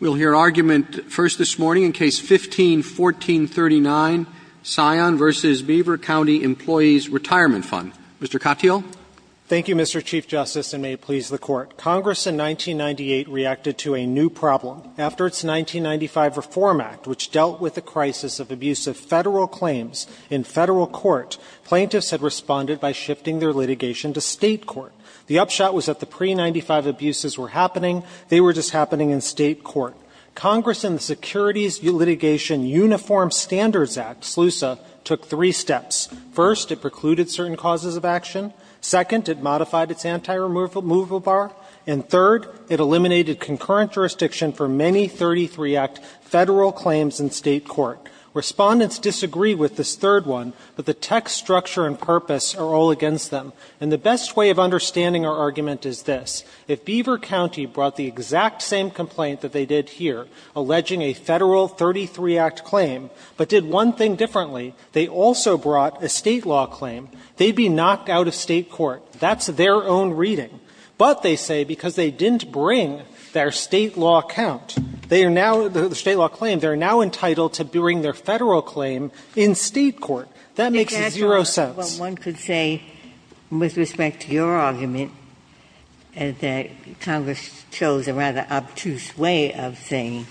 We'll hear argument first this morning in Case 15-1439, Cyan v. Beaver County Employees Retirement Fund. Mr. Katyal. Thank you, Mr. Chief Justice, and may it please the Court. Congress in 1998 reacted to a new problem. After its 1995 Reform Act, which dealt with the crisis of abuse of federal claims in federal court, plaintiffs had responded by shifting their litigation to state court. The upshot was that the pre-'95 abuses were happening. They were just happening in state court. Congress in the Securities Litigation Uniform Standards Act, SLUSA, took three steps. First, it precluded certain causes of action. Second, it modified its anti-removal bar. And third, it eliminated concurrent jurisdiction for many 33-Act federal claims in state court. Respondents disagree with this third one, but the text, structure, and purpose are all against them. And the best way of understanding our argument is this. If Beaver County brought the exact same complaint that they did here, alleging a Federal 33-Act claim, but did one thing differently, they also brought a state law claim, they'd be knocked out of state court. That's their own reading. But, they say, because they didn't bring their state law count, they are now the state law claim, they are now entitled to bring their Federal claim in state court. That makes zero sense. Ginsburg. Well, one could say, with respect to your argument, that Congress chose a rather obtuse way of saying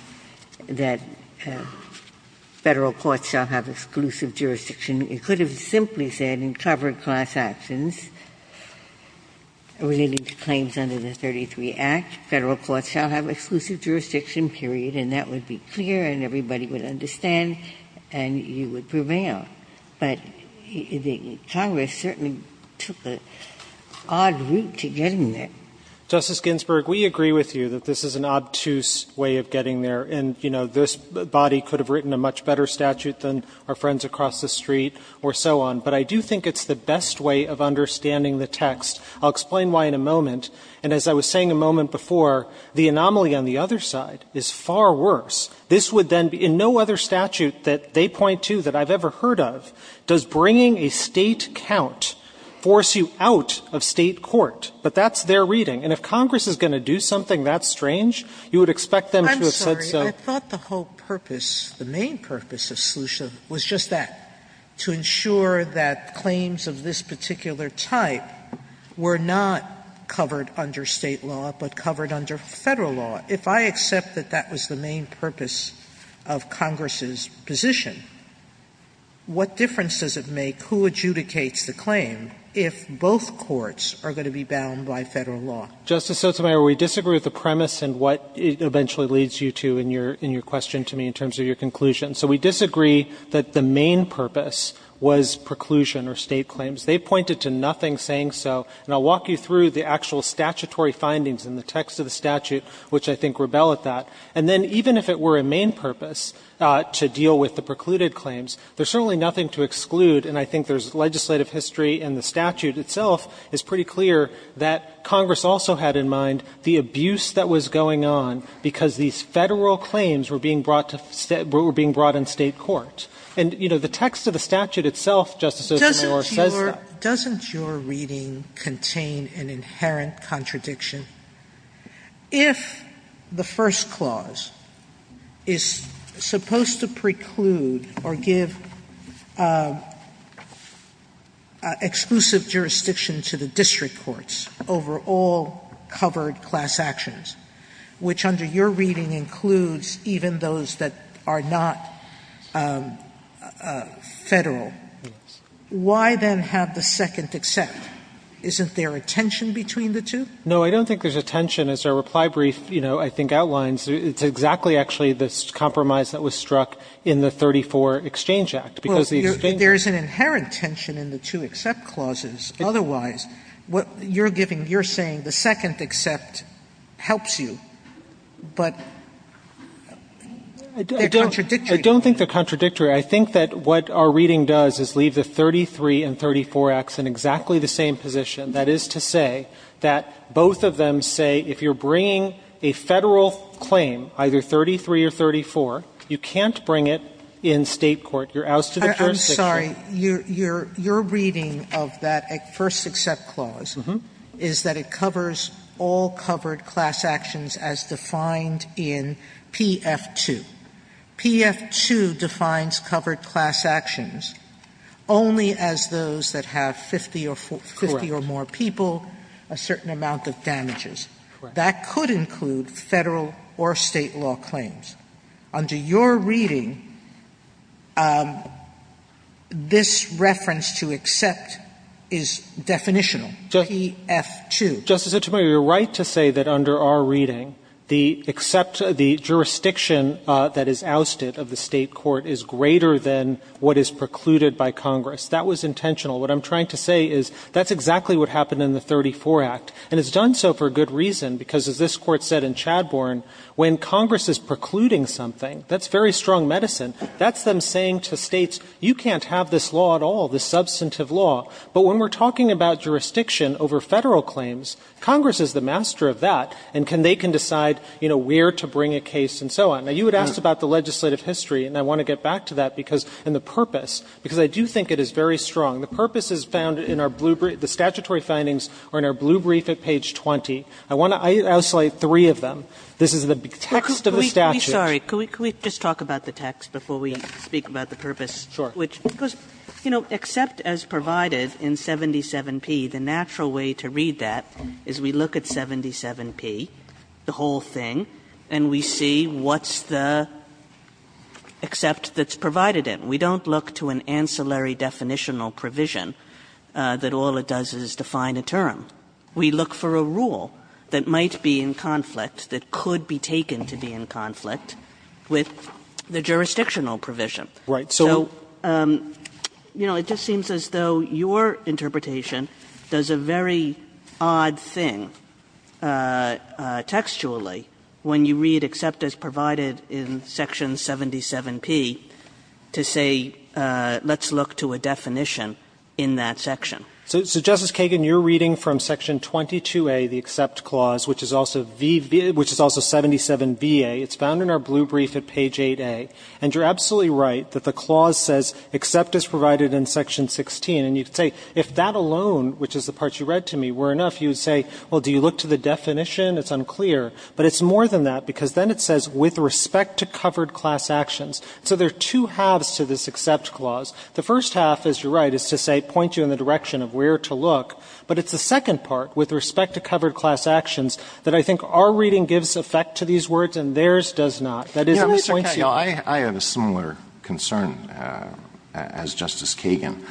that Federal courts shall have exclusive jurisdiction. It could have simply said, in covered class actions, related to claims under the 33-Act, Federal courts shall have exclusive jurisdiction, period, and that would be clear and everybody would understand, and you would prevail. But Congress certainly took an odd route to getting there. Justice Ginsburg, we agree with you that this is an obtuse way of getting there. And, you know, this body could have written a much better statute than our friends across the street or so on. But I do think it's the best way of understanding the text. I'll explain why in a moment. And as I was saying a moment before, the anomaly on the other side is far worse. This would then be, in no other statute that they point to that I've ever heard of, does bringing a state count force you out of state court? But that's their reading. And if Congress is going to do something that strange, you would expect them to have said so. Sotomayor, I'm sorry. I thought the whole purpose, the main purpose of Slusha was just that, to ensure that claims of this particular type were not covered under state law, but covered under Federal law. If I accept that that was the main purpose of Congress's position, what difference does it make who adjudicates the claim if both courts are going to be bound by Federal law? Justice Sotomayor, we disagree with the premise and what it eventually leads you to in your question to me in terms of your conclusion. So we disagree that the main purpose was preclusion or state claims. They pointed to nothing saying so. And I'll walk you through the actual statutory findings in the text of the statute, which I think rebelled at that. And then even if it were a main purpose to deal with the precluded claims, there's certainly nothing to exclude. And I think there's legislative history and the statute itself is pretty clear that Congress also had in mind the abuse that was going on because these Federal claims were being brought to state – were being brought in state court. And, you know, the text of the statute itself, Justice Sotomayor, says that. Sotomayor, doesn't your reading contain an inherent contradiction? If the First Clause is supposed to preclude or give exclusive jurisdiction to the district courts over all covered class actions, which under your reading includes even those that are not Federal, why then have the second except? Isn't there a tension between the two? No, I don't think there's a tension. As our reply brief, you know, I think outlines, it's exactly actually the compromise that was struck in the 34 Exchange Act, because these are things that – Well, there's an inherent tension in the two except clauses. Otherwise, what you're giving – you're saying the second except helps you, but they're contradictory. I don't think they're contradictory. I think that what our reading does is leave the 33 and 34 Acts in exactly the same position, that is to say that both of them say if you're bringing a Federal claim, either 33 or 34, you can't bring it in state court. You're ousted of jurisdiction. I'm sorry. Your reading of that first except clause is that it covers all covered class actions as defined in P.F. 2. P.F. 2 defines covered class actions only as those that have 50 or more people, a certain amount of damages. Correct. That could include Federal or state law claims. Under your reading, this reference to except is definitional, P.F. 2. Justice Sotomayor, you're right to say that under our reading, the except – the jurisdiction that is ousted of the state court is greater than what is precluded by Congress. That was intentional. What I'm trying to say is that's exactly what happened in the 34 Act, and it's done so for a good reason, because as this Court said in Chadbourne, when Congress is precluding something, that's very strong medicine. That's them saying to states, you can't have this law at all, this substantive law. But when we're talking about jurisdiction over Federal claims, Congress is the master of that, and they can decide, you know, where to bring a case and so on. Now, you had asked about the legislative history, and I want to get back to that because – and the purpose, because I do think it is very strong. The purpose is found in our blue – the statutory findings are in our blue brief at page 20. I want to – I'll say three of them. This is the text of the statute. Sorry. Could we just talk about the text before we speak about the purpose? Sure. Which goes, you know, except as provided in 77P, the natural way to read that is we look at 77P, the whole thing, and we see what's the except that's provided in. We don't look to an ancillary definitional provision that all it does is define a term. We look for a rule that might be in conflict, that could be taken to be in conflict with the jurisdictional provision. Right. So, you know, it just seems as though your interpretation does a very odd thing textually when you read except as provided in section 77P to say let's look to a definition in that section. So, Justice Kagan, you're reading from section 22A, the except clause, which is also 77VA. It's found in our blue brief at page 8A, and you're absolutely right that the clause says except as provided in section 16, and you can say if that alone, which is the part you read to me, were enough, you would say, well, do you look to the definition? It's unclear. But it's more than that, because then it says with respect to covered class actions. So there are two halves to this except clause. The first half, as you're right, is to say point you in the direction of where to look, but it's the second part, with respect to covered class actions, that I think our reading gives effect to these words and theirs does not. That is, it points you in the direction of where to look. Alito, I have a similar concern as Justice Kagan.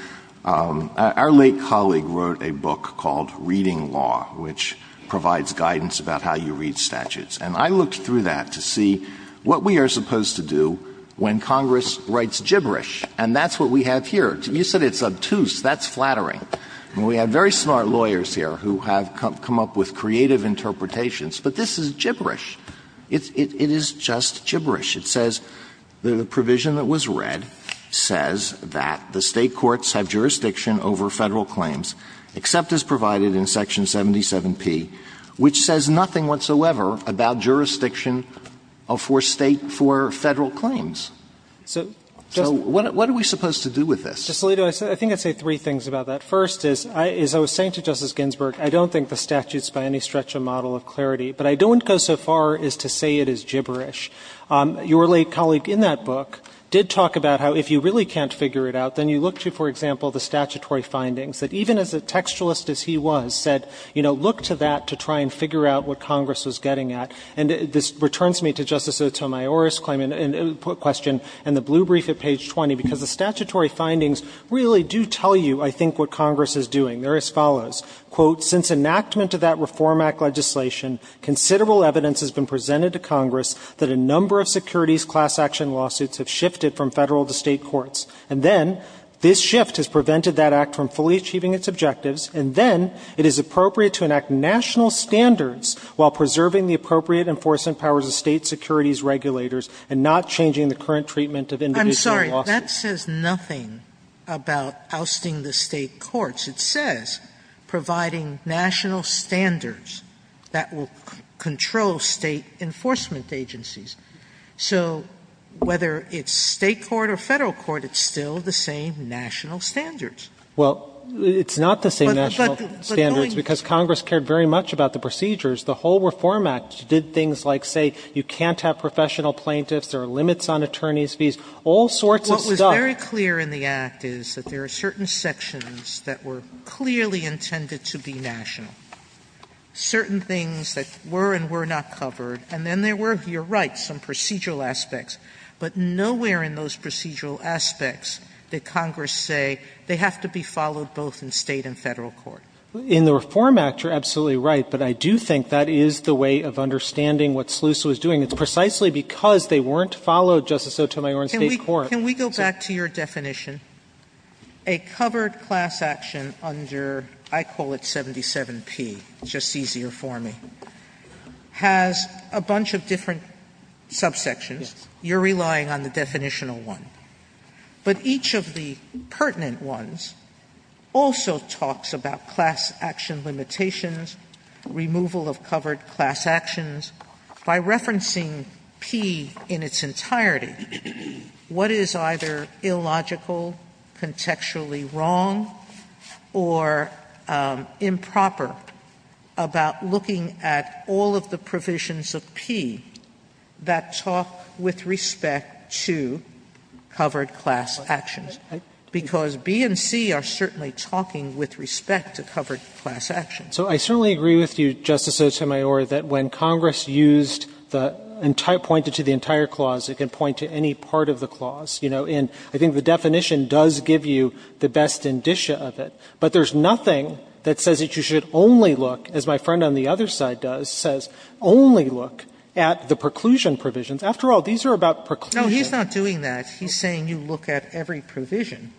Our late colleague wrote a book called Reading Law, which provides guidance about how you read statutes. And I looked through that to see what we are supposed to do when Congress writes gibberish, and that's what we have here. You said it's obtuse. That's flattering. We have very smart lawyers here who have come up with creative interpretations, but this is gibberish. It is just gibberish. It says the provision that was read says that the State courts have jurisdiction over Federal claims, except as provided in section 77P, which says nothing whatsoever about jurisdiction for State for Federal claims. So what are we supposed to do with this? So, Alito, I think I'd say three things about that. First is, as I was saying to Justice Ginsburg, I don't think the statutes by any stretch a model of clarity, but I don't go so far as to say it is gibberish. Your late colleague in that book did talk about how if you really can't figure it out, then you look to, for example, the statutory findings, that even as a textualist as he was said, you know, look to that to try and figure out what Congress was getting at. And this returns me to Justice Otomayor's claim and question in the blue brief at page 20, because the statutory findings really do tell you, I think, what Congress is doing. They're as follows. Quote, "...since enactment of that Reform Act legislation, considerable evidence has been presented to Congress that a number of securities class action lawsuits have shifted from Federal to State courts. And then, this shift has prevented that Act from fully achieving its objectives. And then, it is appropriate to enact national standards while preserving the appropriate enforcement powers of State securities regulators and not changing the current treatment of individual lawsuits." Sotomayor, I'm sorry, that says nothing about ousting the State courts. It says providing national standards that will control State enforcement agencies. So whether it's State court or Federal court, it's still the same national standards. Katyal, it's not the same national standards because Congress cared very much about the procedures. The whole Reform Act did things like, say, you can't have professional plaintiffs, there are limits on attorney's fees, all sorts of stuff. Sotomayor, what's very clear in the Act is that there are certain sections that were clearly intended to be national, certain things that were and were not covered, and then there were, you're right, some procedural aspects. But nowhere in those procedural aspects did Congress say they have to be followed both in State and Federal court. In the Reform Act, you're absolutely right, but I do think that is the way of understanding what SLUSA was doing. It's precisely because they weren't followed, Justice Sotomayor, in State court. Sotomayor, can we go back to your definition? A covered class action under, I call it 77P, just easier for me, has a bunch of different subsections. You're relying on the definitional one. But each of the pertinent ones also talks about class action limitations, removal of covered class actions, by referencing P in its entirety. What is either illogical, contextually wrong, or improper about looking at all of the provisions of P that talk with respect to covered class actions? Because B and C are certainly talking with respect to covered class actions. So I certainly agree with you, Justice Sotomayor, that when Congress used the entire point to the entire clause, it can point to any part of the clause. You know, and I think the definition does give you the best indicia of it. But there's nothing that says that you should only look, as my friend on the other side does, says only look at the preclusion provisions. After all, these are about preclusion. No, he's not doing that. He's saying you look at every provision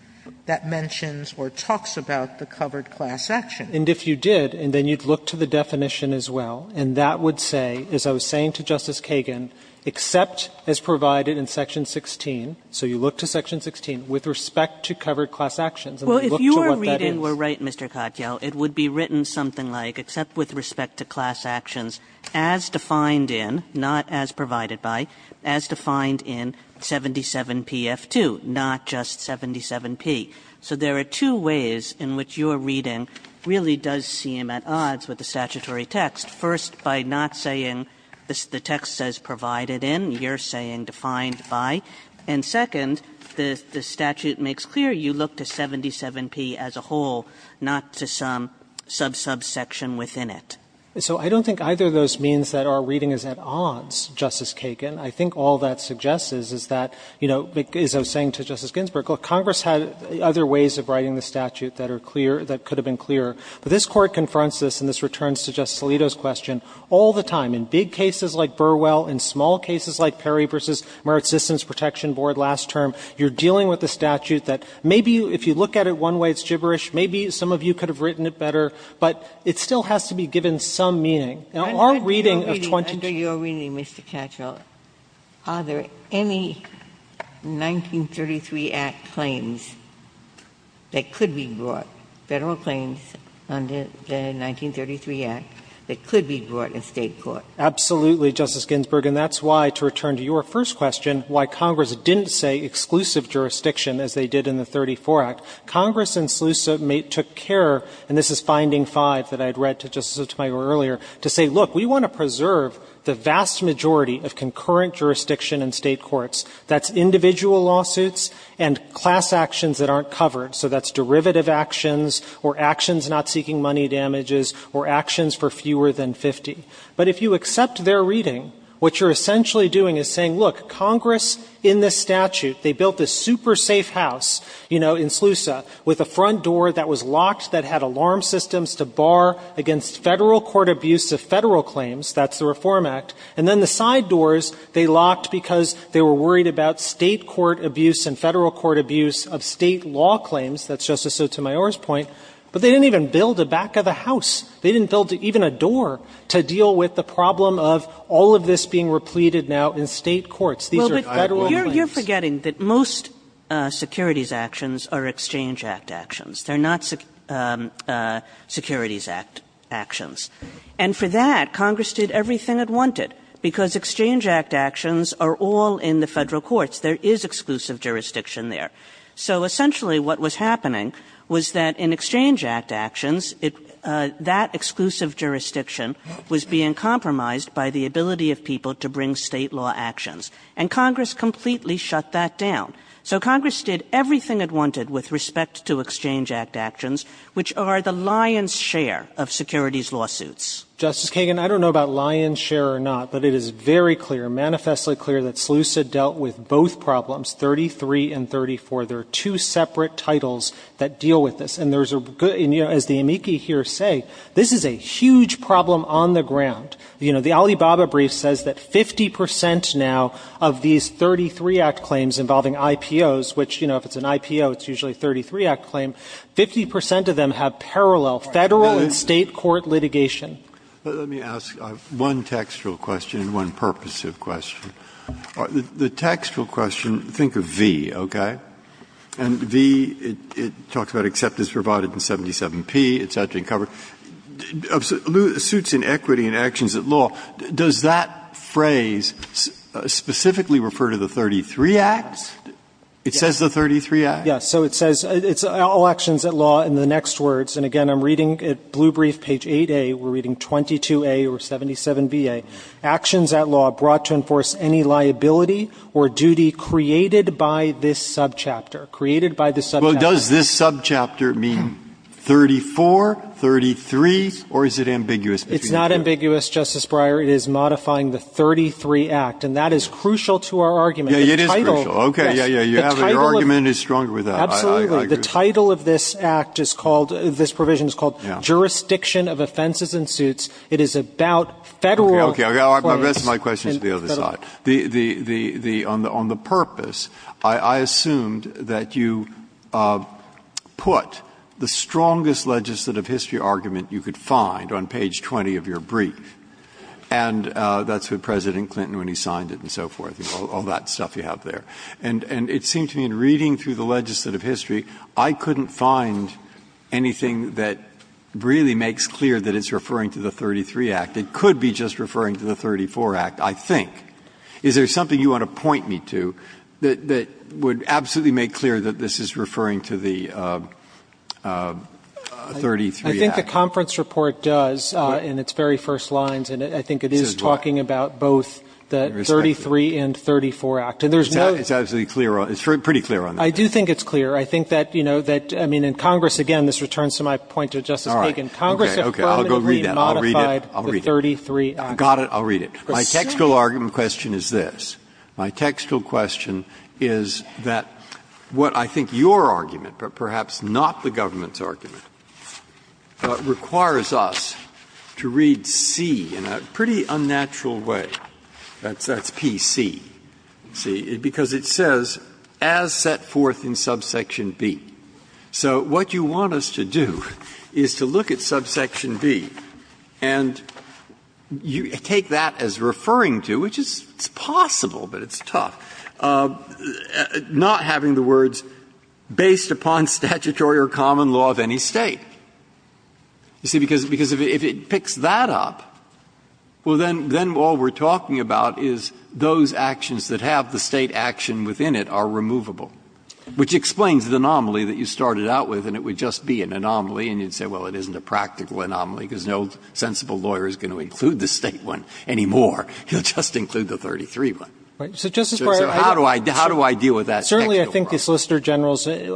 that mentions or talks about the covered class action. And if you did, and then you'd look to the definition as well, and that would say, as I was saying to Justice Kagan, except as provided in section 16, so you look to section 16, with respect to covered class actions, and look to what that is. Kagan. You're right, Mr. Katyal, it would be written something like, except with respect to class actions, as defined in, not as provided by, as defined in 77PF2, not just 77P. So there are two ways in which your reading really does seem at odds with the statutory text. First, by not saying the text says provided in, you're saying defined by, and second, what the statute makes clear, you look to 77P as a whole, not to some sub-sub section within it. Katyal, so I don't think either of those means that our reading is at odds, Justice Kagan. I think all that suggests is, is that, you know, as I was saying to Justice Ginsburg, Congress had other ways of writing the statute that are clear, that could have been clearer. But this Court confronts this, and this returns to Justice Alito's question, all the time, in big cases like Burwell, in small cases like Perry v. Merit Systems Protection Board last term, you're dealing with a statute that maybe, if you look at it one way, it's gibberish. Maybe some of you could have written it better, but it still has to be given some meaning. Now, our reading of 22 of the 1933 Act claims that could be brought, Federal claims under the 1933 Act, that could be brought in State court. Absolutely, Justice Ginsburg. And that's why, to return to your first question, why Congress didn't say exclusive jurisdiction, as they did in the 1934 Act. Congress and SLUSA took care, and this is finding five that I had read to Justice Otomi earlier, to say, look, we want to preserve the vast majority of concurrent jurisdiction in State courts. That's individual lawsuits and class actions that aren't covered. So that's derivative actions, or actions not seeking money damages, or actions for fewer than 50. But if you accept their reading, what you're essentially doing is saying, look, Congress, in this statute, they built this super safe house, you know, in SLUSA, with a front door that was locked, that had alarm systems to bar against Federal court abuse of Federal claims, that's the Reform Act. And then the side doors, they locked because they were worried about State court abuse and Federal court abuse of State law claims, that's Justice Otomi's point. But they didn't even build the back of the house. They didn't build even a door to deal with the problem of all of this being repleted now in State courts, these are Federal claims. Kagan. Kagan. You're forgetting that most Securities Actions are Exchange Act actions. They're not Securities Act actions. And for that, Congress did everything it wanted, because Exchange Act actions are all in the Federal courts. There is exclusive jurisdiction there. So essentially what was happening was that in Exchange Act actions that section of that exclusive jurisdiction was being compromised by the ability of people to bring State law actions, and Congress completely shut that down. So Congress did everything it wanted with respect to Exchange Act actions, which are the lion's share of Securities lawsuits. Justice Kagan, I don't know about lion's share or not, but it is very clear, manifestly clear, that SLUSA dealt with both problems, 33 and 34. There are two separate titles that deal with this. And there's a good — as the amici here say, this is a huge problem on the ground. You know, the Alibaba brief says that 50 percent now of these 33 Act claims involving IPOs, which, you know, if it's an IPO, it's usually a 33 Act claim, 50 percent of them have parallel Federal and State court litigation. Let me ask one textual question and one purposive question. The textual question — think of V, okay? And V, it talks about acceptance provided in 77P, it's out in cover. Suits in equity and actions at law, does that phrase specifically refer to the 33 Acts? It says the 33 Acts? Yes. So it says — it's all actions at law in the next words, and, again, I'm reading at blue brief, page 8A, we're reading 22A or 77BA, actions at law brought to enforce any liability or duty created by this subchapter, created by this subchapter. Well, does this subchapter mean 34, 33, or is it ambiguous? It's not ambiguous, Justice Breyer. It is modifying the 33 Act, and that is crucial to our argument. Yes, it is crucial. Okay, yes, yes. Your argument is stronger with that. Absolutely. The title of this Act is called — this provision is called jurisdiction of offenses and suits. It is about Federal claims. Okay, my question is to the other side. The — on the purpose, I assumed that you put the strongest legislative history argument you could find on page 20 of your brief, and that's what President Clinton, when he signed it and so forth, all that stuff you have there. And it seemed to me, in reading through the legislative history, I couldn't find anything that really makes clear that it's referring to the 33 Act. It could be just referring to the 34 Act, I think. Is there something you want to point me to that would absolutely make clear that this is referring to the 33 Act? I think the conference report does, in its very first lines, and I think it is talking about both the 33 and 34 Act. And there's no — It's absolutely clear on — it's pretty clear on that. I do think it's clear. I think that, you know, that — I mean, in Congress, again, this returns to my point to Justice Kagan. All right, okay, okay. I'll go read that. I'll read it. My textual argument question is this. My textual question is that what I think your argument, but perhaps not the government's argument, requires us to read C in a pretty unnatural way, that's P.C. C, because it says, as set forth in subsection B. So what you want us to do is to look at subsection B, and you take that as referring to, which is possible, but it's tough, not having the words, based upon statutory or common law of any State. You see, because if it picks that up, well, then all we're talking about is those actions that have the State action within it are removable, which explains the anomaly that you started out with, and it would just be an anomaly, and you'd say, well, it isn't a practical anomaly, because no sensible lawyer is going to include the State one anymore. He'll just include the 33 one. So how do I deal with that textual problem? Certainly, I think the Solicitor General's way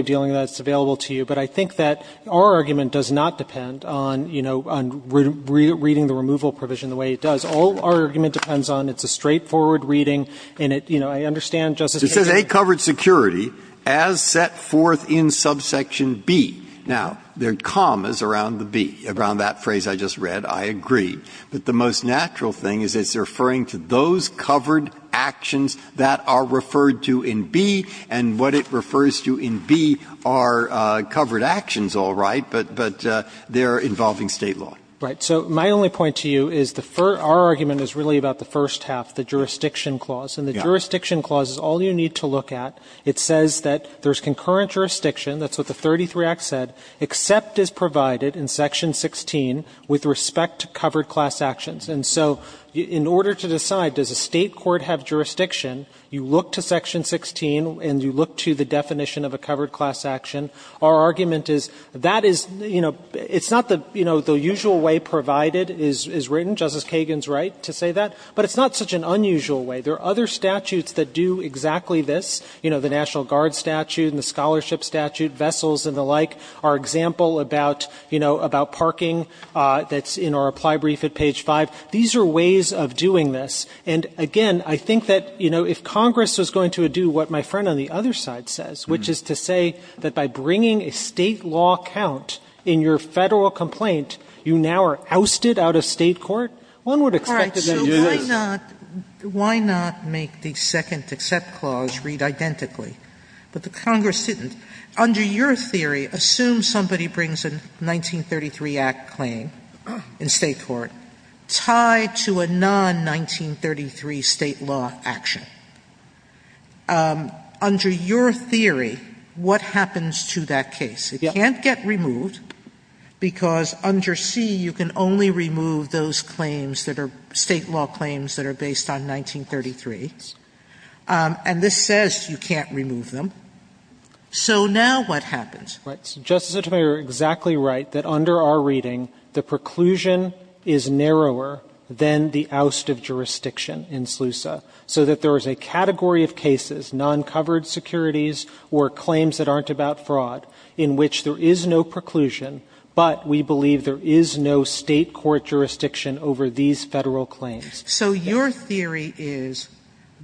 of dealing with that is available to you, but I think that our argument does not depend on, you know, on reading the removal provision the way it does. All our argument depends on it's a straightforward reading, and it, you know, I understand Justice Kagan. Breyer. It says, A, covered security, as set forth in subsection B. Now, there are commas around the B, around that phrase I just read. I agree. But the most natural thing is it's referring to those covered actions that are referred to in B, and what it refers to in B are covered actions, all right, but they're involving State law. Right. So my only point to you is the first – our argument is really about the first half, the jurisdiction clause. And the jurisdiction clause is all you need to look at. It says that there's concurrent jurisdiction. That's what the 33 Act said. Except is provided in section 16 with respect to covered class actions. And so in order to decide does a State court have jurisdiction, you look to section 16, and you look to the definition of a covered class action. Our argument is that is, you know, it's not the, you know, the usual way provided is written. Justice Kagan's right to say that. But it's not such an unusual way. There are other statutes that do exactly this. You know, the National Guard statute and the scholarship statute, vessels and the like, our example about, you know, about parking that's in our reply brief at page 5. These are ways of doing this. And again, I think that, you know, if Congress was going to do what my friend on the other side says, which is to say that by bringing a State law count in your Federal complaint, you now are ousted out of State court, one would expect them to do this. Sotomayor, why not make the second except clause read identically? But the Congress didn't. Under your theory, assume somebody brings a 1933 Act claim in State court tied to a non-1933 State law action. Under your theory, what happens to that case? It can't get removed because under C, you can only remove those claims that are State law claims that are based on 1933. And this says you can't remove them. So now what happens? Right. Justice Sotomayor, you're exactly right that under our reading, the preclusion is narrower than the oust of jurisdiction in SLUSA, so that there is a category of cases, non-covered securities or claims that aren't about fraud, in which there is no preclusion, but we believe there is no State court jurisdiction over these Federal claims. So your theory is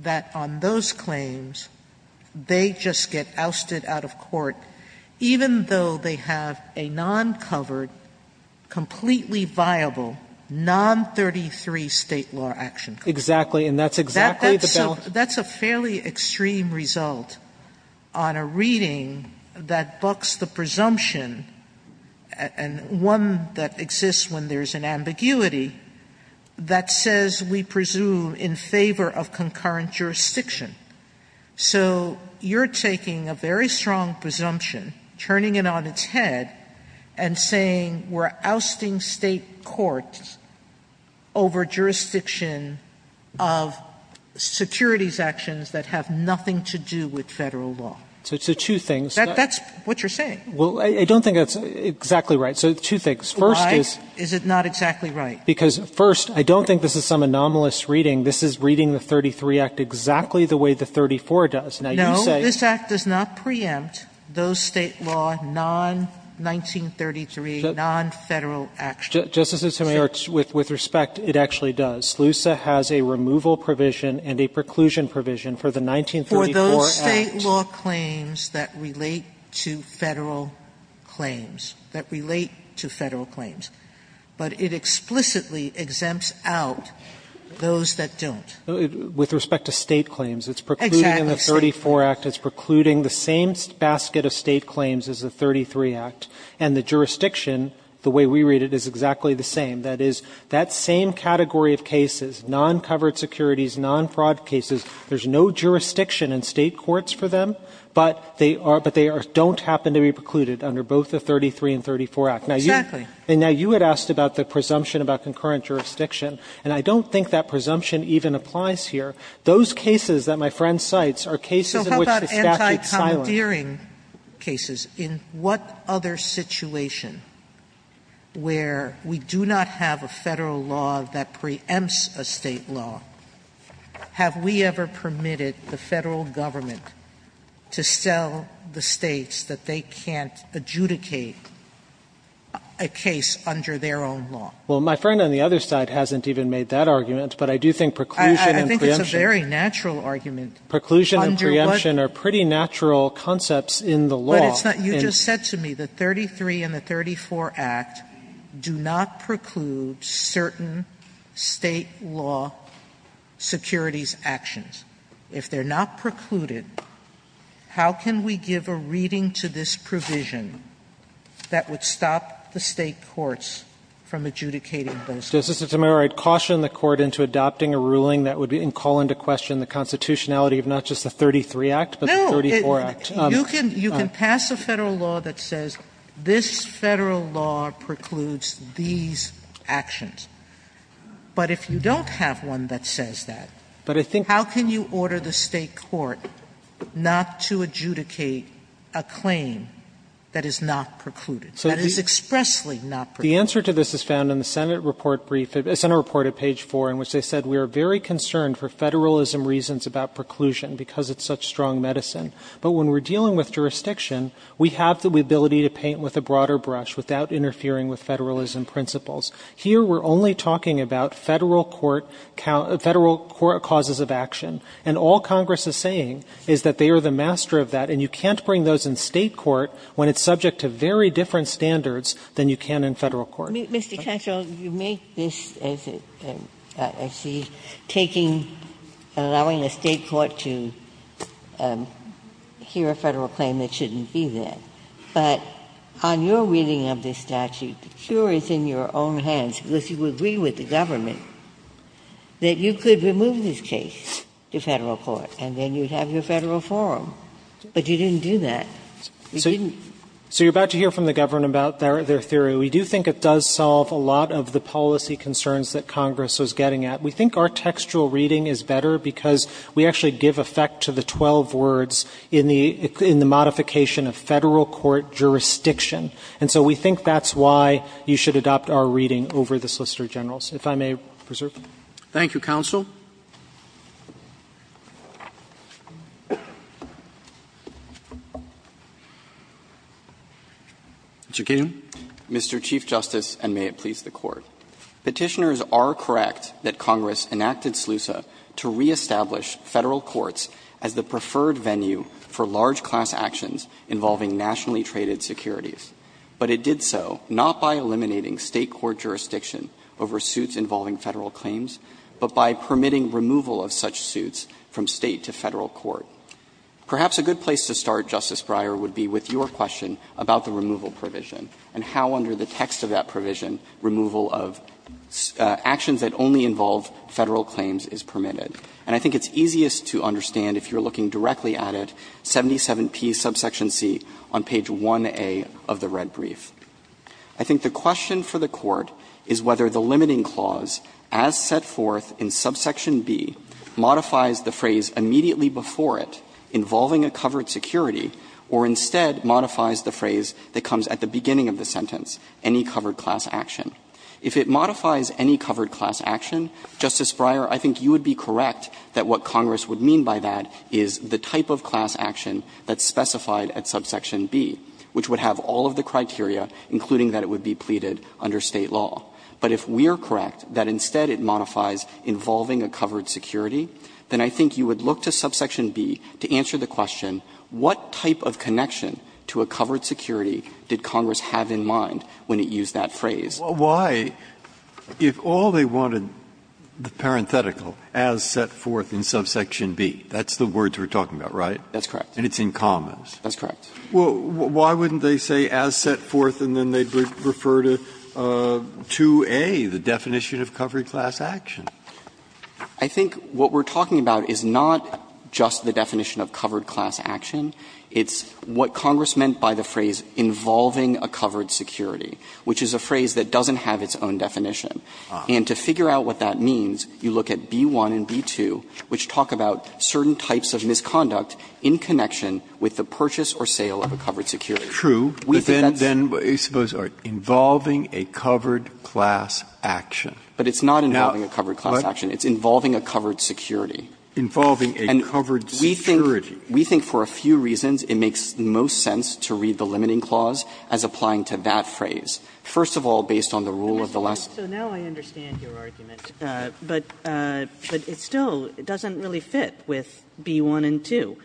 that on those claims, they just get ousted out of court, even though they have a non-covered, completely viable, non-33 State law action claim. Exactly. And that's exactly the balance. That's a fairly extreme result on a reading that bucks the presumption, and one that says we presume in favor of concurrent jurisdiction. So you're taking a very strong presumption, turning it on its head, and saying we're ousting State courts over jurisdiction of securities actions that have nothing to do with Federal law. So two things. That's what you're saying. Well, I don't think that's exactly right. So two things. Why is it not exactly right? Because, first, I don't think this is some anomalous reading. This is reading the 33 Act exactly the way the 34 does. Now, you say No, this Act does not preempt those State law, non-1933, non-Federal actions. Justice Sotomayor, with respect, it actually does. SLUSA has a removal provision and a preclusion provision for the 1934 Act. For those State law claims that relate to Federal claims, that relate to Federal law, it implicitly exempts out those that don't. With respect to State claims, it's precluding the 34 Act, it's precluding the same basket of State claims as the 33 Act, and the jurisdiction, the way we read it, is exactly the same. That is, that same category of cases, non-covered securities, non-fraud cases, there's no jurisdiction in State courts for them, but they are don't happen to be precluded under both the 33 and 34 Act. Exactly. And now, you had asked about the presumption about concurrent jurisdiction, and I don't think that presumption even applies here. Those cases that my friend cites are cases in which the statute silenced. Sotomayor, in what other situation where we do not have a Federal law that preempts a State law, have we ever permitted the Federal government to sell the States that they can't adjudicate a case under their own law? Well, my friend on the other side hasn't even made that argument, but I do think preclusion and preemption. I think it's a very natural argument. Under what? Preclusion and preemption are pretty natural concepts in the law. But it's not you just said to me, the 33 and the 34 Act do not preclude certain State law securities actions. If they are not precluded, how can we give a reading to this provision that would stop the State courts from adjudicating those cases? Justice Sotomayor, I'd caution the Court into adopting a ruling that would call into question the constitutionality of not just the 33 Act, but the 34 Act. No. You can pass a Federal law that says this Federal law precludes these actions. But if you don't have one that says that, how can you give a reading to this provision that would allow you to order the State court not to adjudicate a claim that is not precluded, that is expressly not precluded? The answer to this is found in the Senate report brief, Senate report at page 4, in which they said we are very concerned for Federalism reasons about preclusion because it's such strong medicine. But when we're dealing with jurisdiction, we have the ability to paint with a broader brush without interfering with Federalism principles. Here, we're only talking about Federal court causes of action. And all Congress is saying is that they are the master of that, and you can't bring those in State court when it's subject to very different standards than you can in Federal court. Ginsburg. Mr. Katyal, you make this, as I see, taking, allowing a State court to hear a Federal claim that shouldn't be there. But on your reading of this statute, the cure is in your own hands, because you would agree with the government that you could remove this case to Federal court, and then you'd have your Federal forum. But you didn't do that. You didn't. Katyal, so you're about to hear from the government about their theory. We do think it does solve a lot of the policy concerns that Congress was getting at. We think our textual reading is better because we actually give effect to the 12 words in the modification of Federal court jurisdiction. And so we think that's why you should adopt our reading over the Solicitor General's. If I may preserve. Roberts. Thank you, counsel. Mr. Katyal. Mr. Chief Justice, and may it please the Court. Petitioners are correct that Congress enacted SLUSA to reestablish Federal courts as the preferred venue for large-class actions involving nationally traded securities. But it did so not by eliminating State court jurisdiction over suits involving Federal claims, but by permitting removal of such suits from State to Federal court. Perhaps a good place to start, Justice Breyer, would be with your question about the removal provision and how under the text of that provision removal of actions that only involve Federal claims is permitted. And I think it's easiest to understand if you're looking directly at it, 77P, subsection C, on page 1A of the red brief. I think the question for the Court is whether the limiting clause as set forth in subsection B modifies the phrase immediately before it, involving a covered security, or instead modifies the phrase that comes at the beginning of the sentence, any covered class action. If it modifies any covered class action, Justice Breyer, I think you would be correct that what Congress would mean by that is the type of class action that's specified at subsection B, which would have all of the criteria, including that it would be pleaded under State law. But if we are correct that instead it modifies involving a covered security, then I think you would look to subsection B to answer the question, what type of connection to a covered security did Congress have in mind when it used that phrase? Breyer, why, if all they wanted, the parenthetical, as set forth in subsection B, that's the words we're talking about, right? That's correct. And it's in commas. That's correct. Well, why wouldn't they say as set forth and then they'd refer to 2A, the definition of covered class action? I think what we're talking about is not just the definition of covered class action. It's a phrase that doesn't have its own definition. And to figure out what that means, you look at B-1 and B-2, which talk about certain types of misconduct in connection with the purchase or sale of a covered security. We think that's true. But then, suppose, involving a covered class action. But it's not involving a covered class action. It's involving a covered security. Involving a covered security. We think for a few reasons it makes the most sense to read the limiting clause as applying to that phrase. First of all, based on the rule of the last. So now I understand your argument, but it still doesn't really fit with B-1 and 2.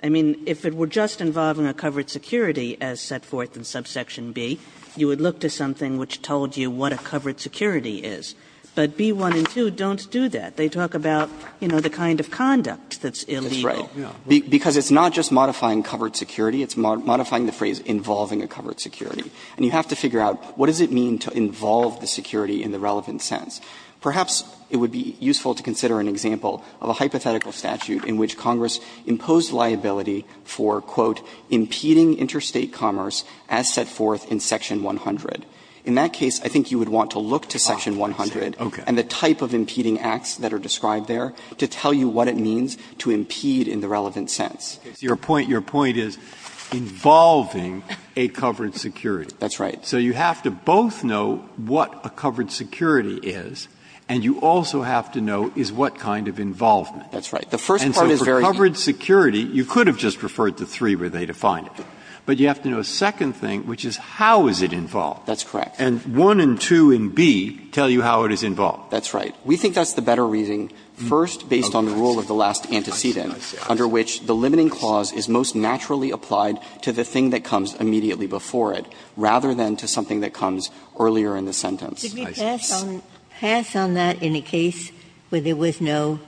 I mean, if it were just involving a covered security as set forth in subsection B, you would look to something which told you what a covered security is. But B-1 and 2 don't do that. They talk about, you know, the kind of conduct that's illegal. That's right. Because it's not just modifying covered security. It's modifying the phrase involving a covered security. And you have to figure out what does it mean to involve the security in the relevant sense. Perhaps it would be useful to consider an example of a hypothetical statute in which Congress imposed liability for, quote, impeding interstate commerce as set forth in section 100. In that case, I think you would want to look to section 100 and the type of impeding acts that are described there to tell you what it means to impede in the relevant sense. Breyer. Your point is involving a covered security. That's right. So you have to both know what a covered security is, and you also have to know is what kind of involvement. That's right. The first part is very important. And so for covered security, you could have just referred to 3 where they defined it. But you have to know a second thing, which is how is it involved. That's correct. And 1 and 2 in B tell you how it is involved. That's right. We think that's the better reasoning, first, based on the rule of the last antecedent, under which the limiting clause is most naturally applied to the thing that comes immediately before it, rather than to something that comes earlier in the sentence. Ginsburg. Could you pass on that in a case where there was no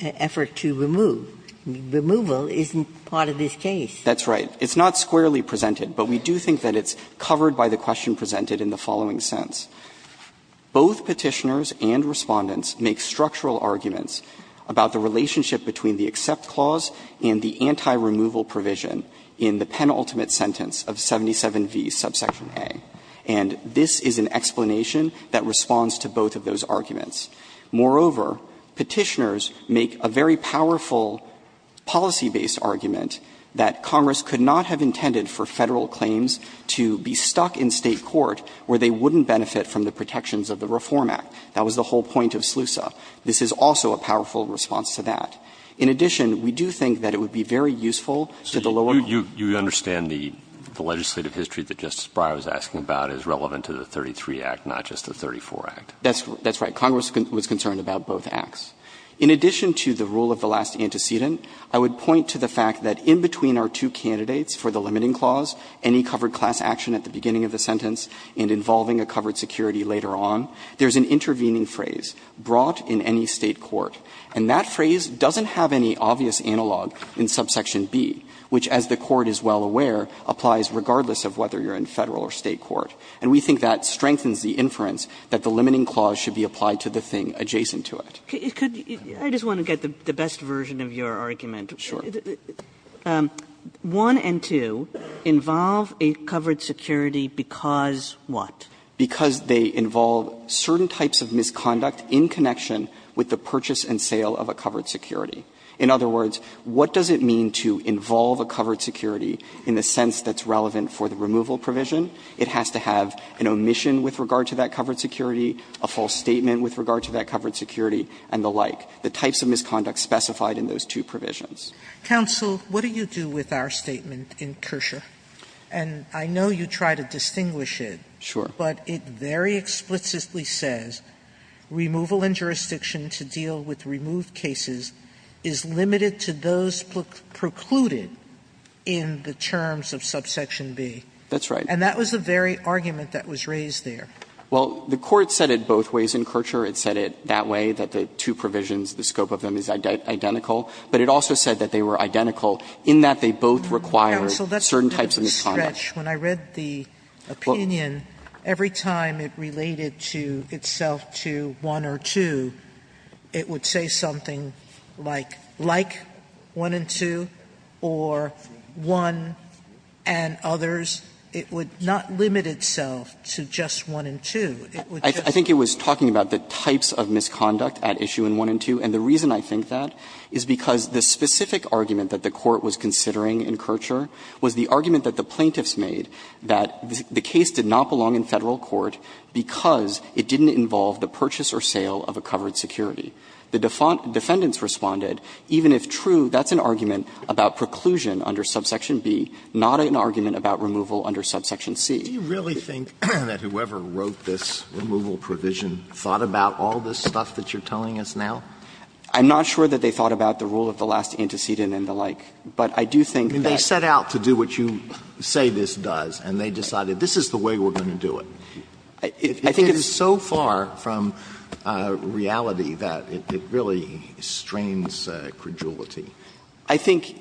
effort to remove? Removal isn't part of this case. That's right. It's not squarely presented, but we do think that it's covered by the question presented in the following sense. Both Petitioners and Respondents make structural arguments about the relationship between the accept clause and the anti-removal provision in the penultimate sentence of 77V, subsection A. And this is an explanation that responds to both of those arguments. Moreover, Petitioners make a very powerful policy-based argument that Congress could not have intended for Federal claims to be stuck in State court where they wouldn't benefit from the protections of the Reform Act. That was the whole point of SLUSA. This is also a powerful response to that. In addition, we do think that it would be very useful to the lower court. So you understand the legislative history that Justice Breyer was asking about is relevant to the 33 Act, not just the 34 Act? That's right. Congress was concerned about both Acts. In addition to the rule of the last antecedent, I would point to the fact that in between our two candidates for the limiting clause, any covered class action at the beginning of the sentence and involving a covered security later on, there's an intervening phrase, brought in any State court. And that phrase doesn't have any obvious analog in subsection B, which, as the court is well aware, applies regardless of whether you're in Federal or State court. And we think that strengthens the inference that the limiting clause should be applied to the thing adjacent to it. Kagan. Kagan. I just want to get the best version of your argument. Sure. One and two involve a covered security because what? Because they involve certain types of misconduct in connection with the purchase and sale of a covered security. In other words, what does it mean to involve a covered security in the sense that's relevant for the removal provision? It has to have an omission with regard to that covered security, a false statement with regard to that covered security, and the like. The types of misconduct specified in those two provisions. Counsel, what do you do with our statement in Kershaw? And I know you try to distinguish it. Sure. But it very explicitly says removal in jurisdiction to deal with removed cases is limited to those precluded in the terms of subsection B. That's right. And that was the very argument that was raised there. Well, the Court said it both ways in Kershaw. It said it that way, that the two provisions, the scope of them is identical. But it also said that they were identical in that they both require certain types of misconduct. Sotomayor, when I read the opinion, every time it related to itself to 1 or 2, it would say something like, like 1 and 2, or 1 and others. It would not limit itself to just 1 and 2. I think it was talking about the types of misconduct at issue in 1 and 2. And the reason I think that is because the specific argument that the Court was considering in Kershaw was the argument that the plaintiffs made, that the case did not belong in Federal court because it didn't involve the purchase or sale of a covered security. The defendants responded, even if true, that's an argument about preclusion under subsection B, not an argument about removal under subsection C. Do you really think that whoever wrote this removal provision thought about all this stuff that you're telling us now? I'm not sure that they thought about the rule of the last antecedent and the like. But I do think that they set out to do what you say this does, and they decided this is the way we're going to do it. It is so far from reality that it really strains credulity. I think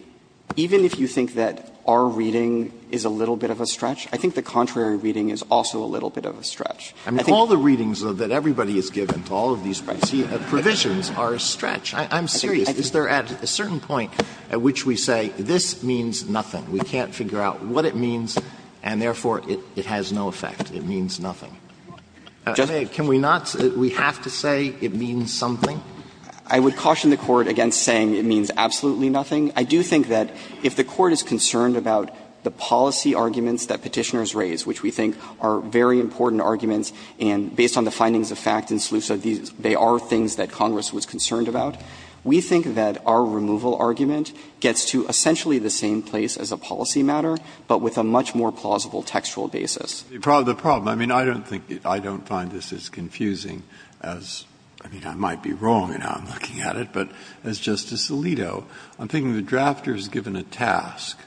even if you think that our reading is a little bit of a stretch, I think the contrary reading is also a little bit of a stretch. I think all the readings that everybody has given to all of these provisions are a stretch. I'm serious. Is there at a certain point at which we say this means nothing, we can't figure out what it means, and therefore it has no effect, it means nothing? Can we not say that we have to say it means something? I would caution the Court against saying it means absolutely nothing. I do think that if the Court is concerned about the policy arguments that Petitioners raise, which we think are very important arguments, and based on the findings of fact in Slusa, they are things that Congress was concerned about, we think that our removal argument gets to essentially the same place as a policy matter, but with a much more plausible textual basis. Breyer. The problem, I mean, I don't think, I don't find this as confusing as, I mean, I might be wrong in how I'm looking at it, but as Justice Alito, I'm thinking the drafter is given a task,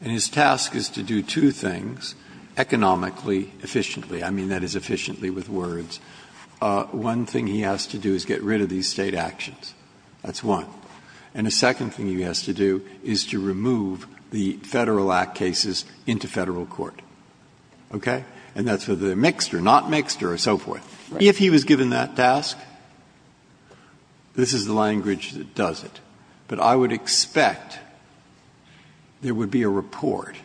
and his task is to do two things, economically, efficiently. I mean, that is efficiently with words. One thing he has to do is get rid of these State actions. That's one. And the second thing he has to do is to remove the Federal Act cases into Federal court, okay? And that's whether they're mixed or not mixed or so forth. If he was given that task, this is the language that does it. But I would expect there would be a report,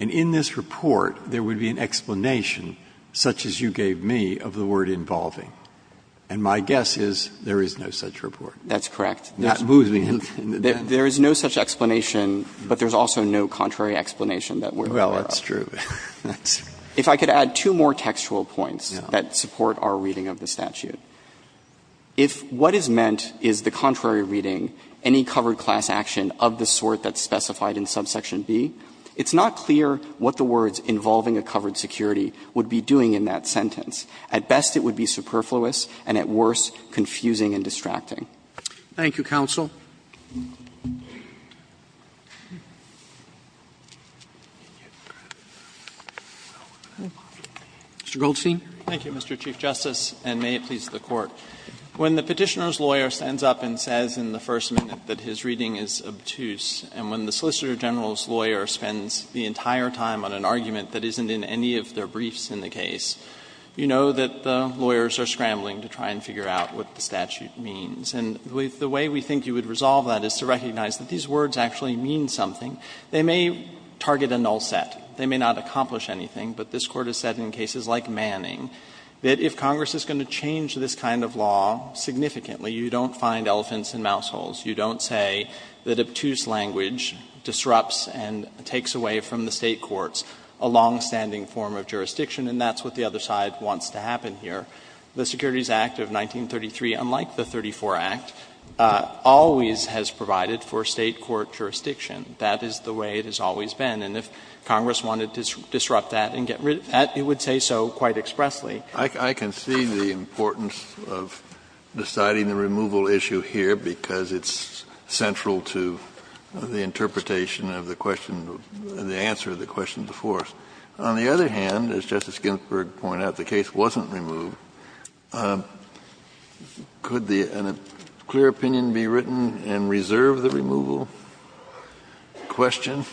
and in this report there would be an explanation such as you gave me of the word involving. And my guess is there is no such report. That's correct. That moves me. There is no such explanation, but there's also no contrary explanation that we're aware of. Well, that's true. If I could add two more textual points that support our reading of the statute. If what is meant is the contrary reading, any covered class action of the sort that's specified in subsection B, it's not clear what the words involving a covered security would be doing in that sentence. At best it would be superfluous, and at worst confusing and distracting. Thank you, counsel. Mr. Goldstein. Thank you, Mr. Chief Justice, and may it please the Court. When the Petitioner's lawyer stands up and says in the first minute that his reading is obtuse, and when the Solicitor General's lawyer spends the entire time on an argument that isn't in any of their briefs in the case, you know that the lawyers are scrambling to try and figure out what the statute means. And the way we think you would resolve that is to recognize that these words actually mean something. They may target a null set. They may not accomplish anything, but this Court has said in cases like Manning that if Congress is going to change this kind of law significantly, you don't find elephants in mouse holes. You don't say that obtuse language disrupts and takes away from the State courts a longstanding form of jurisdiction, and that's what the other side wants to happen here. The Securities Act of 1933, unlike the 34 Act, always has provided for State court jurisdiction. That is the way it has always been. And if Congress wanted to disrupt that and get rid of that, it would say so quite expressly. I can see the importance of deciding the removal issue here, because it's central to the interpretation of the question, the answer to the question before us. On the other hand, as Justice Ginsburg pointed out, the case wasn't removed. Could the clear opinion be written and reserve the removal question?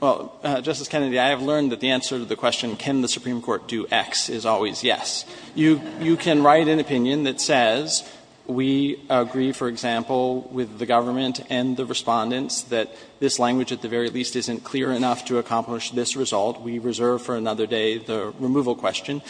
Well, Justice Kennedy, I have learned that the answer to the question, can the Supreme Court do X, is always yes. You can write an opinion that says we agree, for example, with the government and the Respondents that this language at the very least isn't clear enough to accomplish this result. We reserve for another day the removal question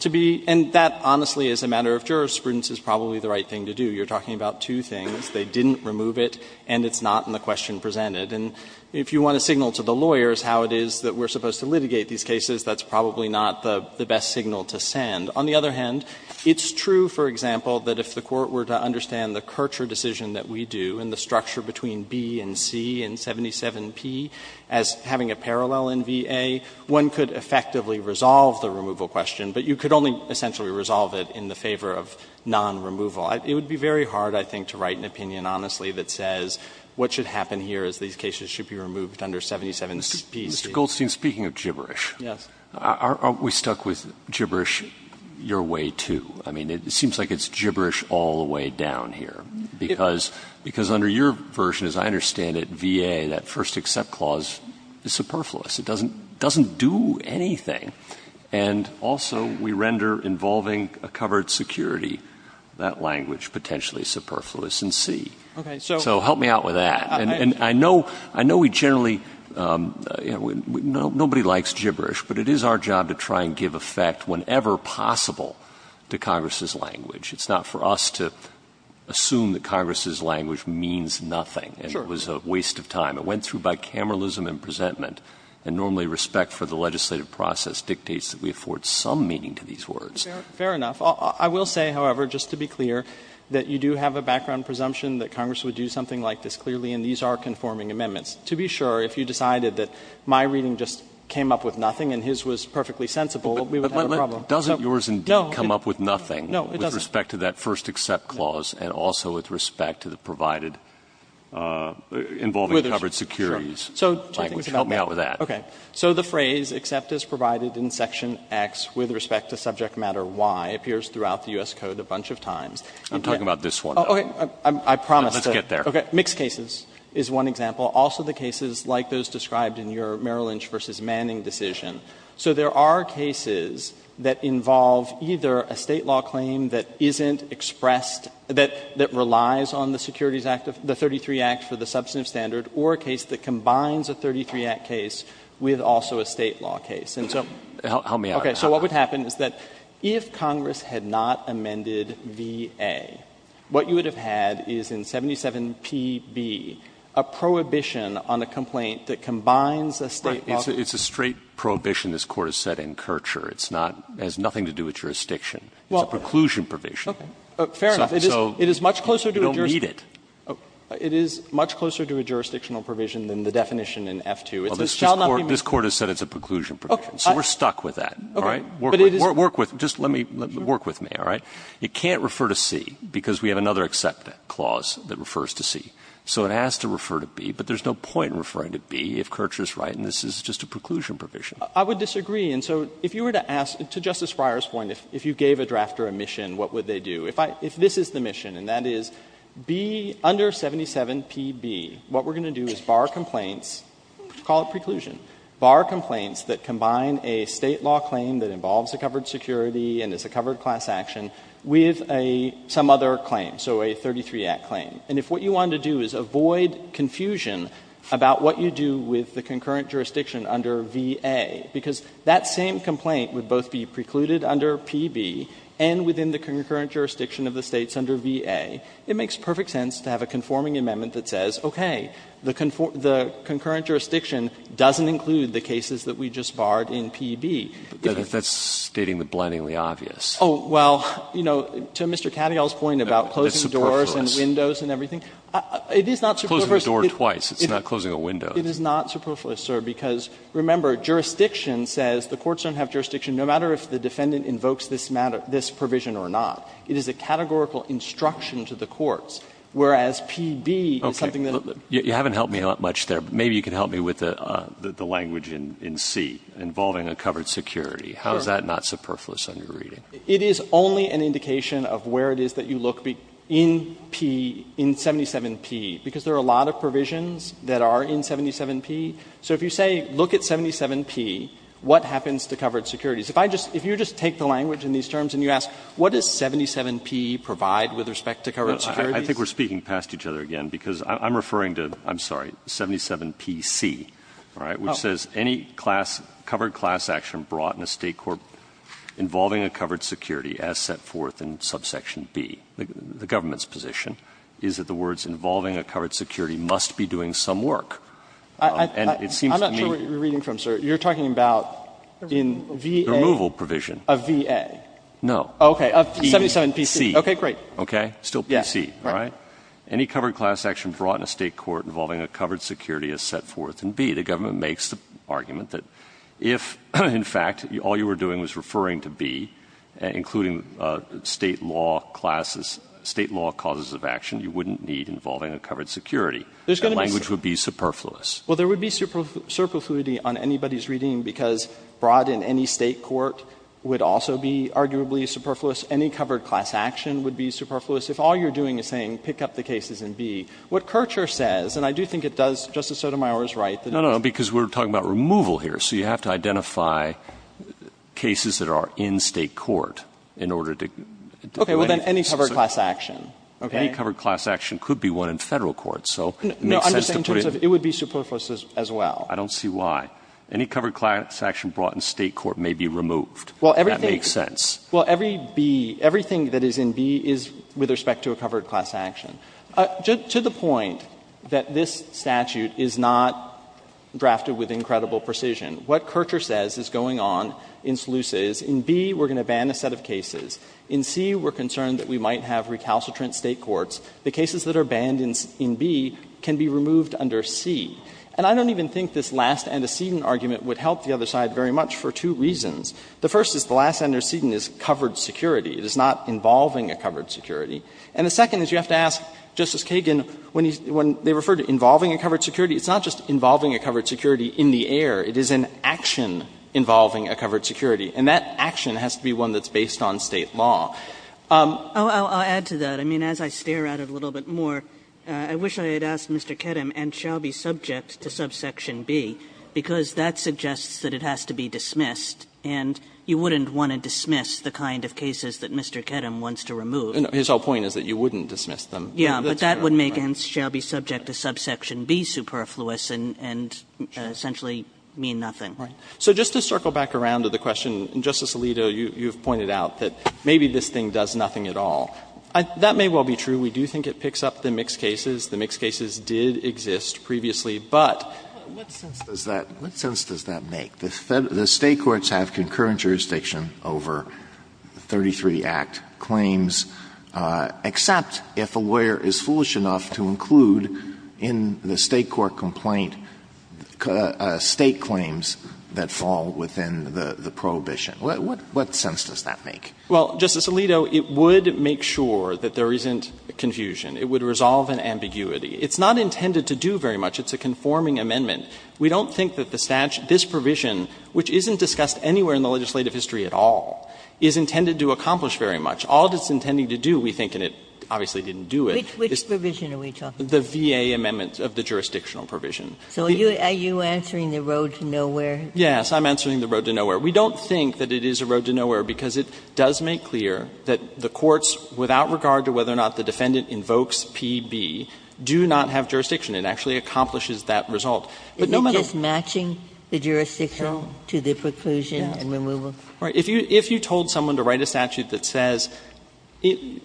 to be and that honestly as a matter of jurisprudence is probably the right thing to do. You are talking about two things. They didn't remove it and it's not in the question presented. And if you want to signal to the lawyers how it is that we are supposed to litigate these cases, that's probably not the best signal to send. On the other hand, it's true, for example, that if the Court were to understand the Kirchherr decision that we do and the structure between B and C and 77P as having a parallel in VA, one could effectively resolve the removal question, but you could only essentially resolve it in the favor of non-removal. It would be very hard, I think, to write an opinion, honestly, that says what should happen here is these cases should be removed under 77P. Mr. Goldstein, speaking of gibberish, are we stuck with gibberish your way, too? I mean, it seems like it's gibberish all the way down here, because under your version, as I understand it, VA, that first accept clause is superfluous. It doesn't do anything. And also we render involving a covered security that language potentially superfluous in C. So help me out with that. And I know we generally, you know, nobody likes gibberish, but it is our job to try and give effect whenever possible to Congress's language. It's not for us to assume that Congress's language means nothing and it was a waste of time. It went through bicameralism and presentment, and normally respect for the legislative process dictates that we afford some meaning to these words. Fair enough. I will say, however, just to be clear, that you do have a background presumption that Congress would do something like this clearly, and these are conforming amendments. To be sure, if you decided that my reading just came up with nothing and his was perfectly sensible, we would have a problem. But doesn't yours indeed come up with nothing with respect to that first accept clause and also with respect to the provided involving covered securities? Sure. So two things about that. Help me out with that. Okay. So the phrase, except as provided in section X with respect to subject matter Y, appears throughout the U.S. Code a bunch of times. I'm talking about this one. Okay. I promise. Let's get there. Okay. Mixed cases is one example. Also the cases like those described in your Merrill Lynch v. Manning decision. So there are cases that involve either a State law claim that isn't expressed that relies on the Securities Act, the 33 Act for the substantive standard, or a case that combines a 33 Act case with also a State law case. And so. Help me out. Okay. So what would happen is that if Congress had not amended VA, what you would have had is in 77PB a prohibition on a complaint that combines a State law. It's a straight prohibition, this Court has said, in Kirchherr. It's not, it has nothing to do with jurisdiction. It's a preclusion provision. Fair enough. It is much closer to a jurisdiction. You don't need it. It is much closer to a jurisdictional provision than the definition in F-2. It shall not be moved. This Court has said it's a preclusion provision. So we're stuck with that. All right. Work with, just let me, work with me, all right. It can't refer to C because we have another except clause that refers to C. So it has to refer to B, but there's no point in referring to B if Kirchherr's right and this is just a preclusion provision. I would disagree. And so if you were to ask, to Justice Breyer's point, if you gave a draft or a mission, what would they do? If I, if this is the mission and that is B under 77PB, what we're going to do is bar complaints, call it preclusion, bar complaints that combine a State law claim that involves a covered security and is a covered class action with a, some other claim. So a 33 Act claim. And if what you want to do is avoid confusion about what you do with the concurrent jurisdiction under VA, because that same complaint would both be precluded under PB and within the concurrent jurisdiction of the States under VA, it makes perfect sense to have a conforming amendment that says, okay, the concurrent jurisdiction doesn't include the cases that we just barred in PB. But that's stating the blendingly obvious. Oh, well, you know, to Mr. Cattigall's point about closing doors and windows and everything, it is not superfluous. It's closing a door twice. It's not closing a window. It is not superfluous, sir, because remember, jurisdiction says the courts don't have jurisdiction no matter if the defendant invokes this provision or not. It is a categorical instruction to the courts, whereas PB is something that's not. You haven't helped me much there, but maybe you can help me with the language in C involving a covered security. How is that not superfluous in your reading? It is only an indication of where it is that you look in P, in 77P, because there are a lot of provisions that are in 77P. So if you say look at 77P, what happens to covered securities? If I just – if you just take the language in these terms and you ask what does 77P provide with respect to covered securities? I think we're speaking past each other again, because I'm referring to, I'm sorry, 77PC, right, which says any class – covered class action brought in a State court involving a covered security as set forth in subsection B, the government's position, is that the words involving a covered security must be doing some work. And it seems to me – I'm not sure what you're reading from, sir. You're talking about in VA – The removal provision. Of VA. No. Okay. Of 77PC. Okay, great. Okay. Still PC, right? Any covered class action brought in a State court involving a covered security as set forth in B, the government makes the argument that if, in fact, all you were doing was referring to B, including State law classes – State law causes of action, you wouldn't need involving a covered security. The language would be superfluous. Well, there would be superfluity on anybody's reading, because brought in any State court would also be arguably superfluous. Any covered class action would be superfluous. If all you're doing is saying pick up the cases in B, what Kirchherr says, and I do think it does, Justice Sotomayor is right, that it's – No, no, because we're talking about removal here. So you have to identify cases that are in State court in order to do anything. Okay. Well, then any covered class action, okay? Any covered class action could be one in Federal court. So it makes sense to put it in – No, I'm just saying in terms of it would be superfluous as well. I don't see why. Any covered class action brought in State court may be removed. That makes sense. Well, everything – well, every B, everything that is in B is with respect to a covered class action. To the point that this statute is not drafted with incredible precision, what Kirchherr says is going on in Slusa is in B we're going to ban a set of cases. In C we're concerned that we might have recalcitrant State courts. The cases that are banned in B can be removed under C. And I don't even think this last antecedent argument would help the other side very much for two reasons. The first is the last antecedent is covered security. It is not involving a covered security. And the second is you have to ask Justice Kagan when he's – when they refer to involving a covered security, it's not just involving a covered security in the air. It is an action involving a covered security. And that action has to be one that's based on State law. I'll add to that. I mean, as I stare at it a little bit more, I wish I had asked Mr. Kedem and Shelby subject to subsection B, because that suggests that it has to be dismissed. And you wouldn't want to dismiss the kind of cases that Mr. Kedem wants to remove. And his whole point is that you wouldn't dismiss them. Kagan. But that would make – and Shelby subject to subsection B superfluous and essentially mean nothing. Right. So just to circle back around to the question, Justice Alito, you've pointed out that maybe this thing does nothing at all. That may well be true. We do think it picks up the mixed cases. The mixed cases did exist previously, but – What sense does that – what sense does that make? The State courts have concurrent jurisdiction over 33 Act claims, except if a lawyer is foolish enough to include in the State court complaint State claims that fall within the prohibition. What sense does that make? Well, Justice Alito, it would make sure that there isn't confusion. It would resolve an ambiguity. It's not intended to do very much. It's a conforming amendment. We don't think that the statute – this provision, which isn't discussed anywhere in the legislative history at all, is intended to accomplish very much. All it's intending to do, we think, and it obviously didn't do it, is – Which provision are we talking about? The VA amendment of the jurisdictional provision. So are you answering the road to nowhere? Yes. I'm answering the road to nowhere. We don't think that it is a road to nowhere because it does make clear that the courts, without regard to whether or not the defendant invokes P.B., do not have jurisdiction. It actually accomplishes that result. Is it just matching the jurisdiction to the preclusion and removal? Right. If you told someone to write a statute that says,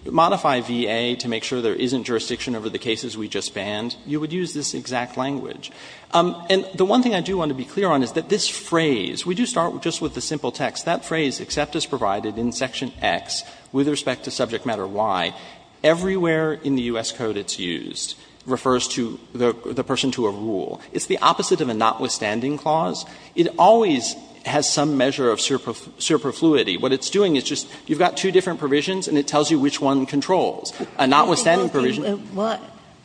modify VA to make sure there isn't jurisdiction over the cases we just banned, you would use this exact language. And the one thing I do want to be clear on is that this phrase, we do start just with the simple text. That phrase, except as provided in section X, with respect to subject matter Y, everywhere in the U.S. Code it's used, refers to the person to a rule. It's the opposite of a notwithstanding clause. It always has some measure of superfluity. What it's doing is just you've got two different provisions and it tells you which one controls. A notwithstanding provision. Ginsburg.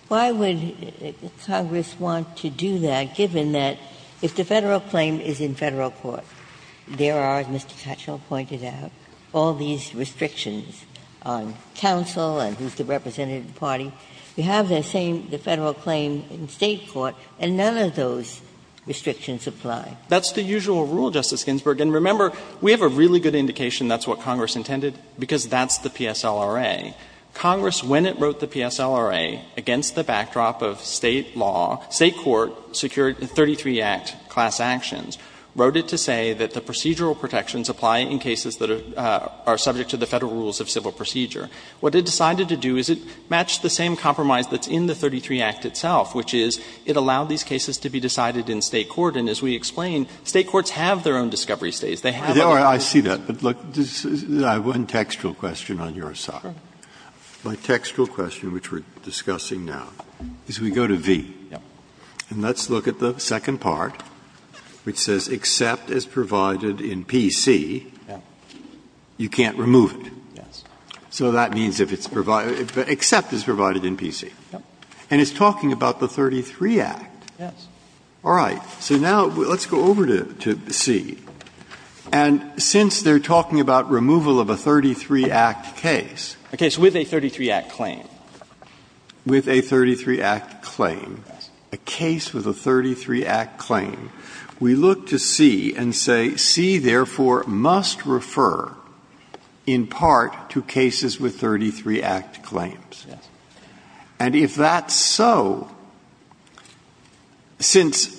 Why would Congress want to do that, given that if the Federal claim is in Federal court, there are, as Mr. Katchel pointed out, all these restrictions on counsel and who's the representative party. You have the same Federal claim in State court and none of those restrictions apply. That's the usual rule, Justice Ginsburg. And remember, we have a really good indication that's what Congress intended because that's the PSLRA. Congress, when it wrote the PSLRA, against the backdrop of State law, State court secured the 33 Act class actions, wrote it to say that the procedural protections apply in cases that are subject to the Federal rules of civil procedure. What it decided to do is it matched the same compromise that's in the 33 Act itself, which is it allowed these cases to be decided in State court. And as we explained, State courts have their own discovery stays. They have their own discovery stays. Breyer. I see that, but look, I have one textual question on your side. My textual question, which we're discussing now, is we go to v. And let's look at the second part, which says except as provided in PC, you can't remove it. So that means if it's provided, except as provided in PC. And it's talking about the 33 Act. All right. So now let's go over to C. And since they're talking about removal of a 33 Act case. Verrilli, A case with a 33 Act claim. Breyer. With a 33 Act claim. A case with a 33 Act claim. We look to C and say, C, therefore, must refer in part to cases with 33 Act claims. And if that's so, since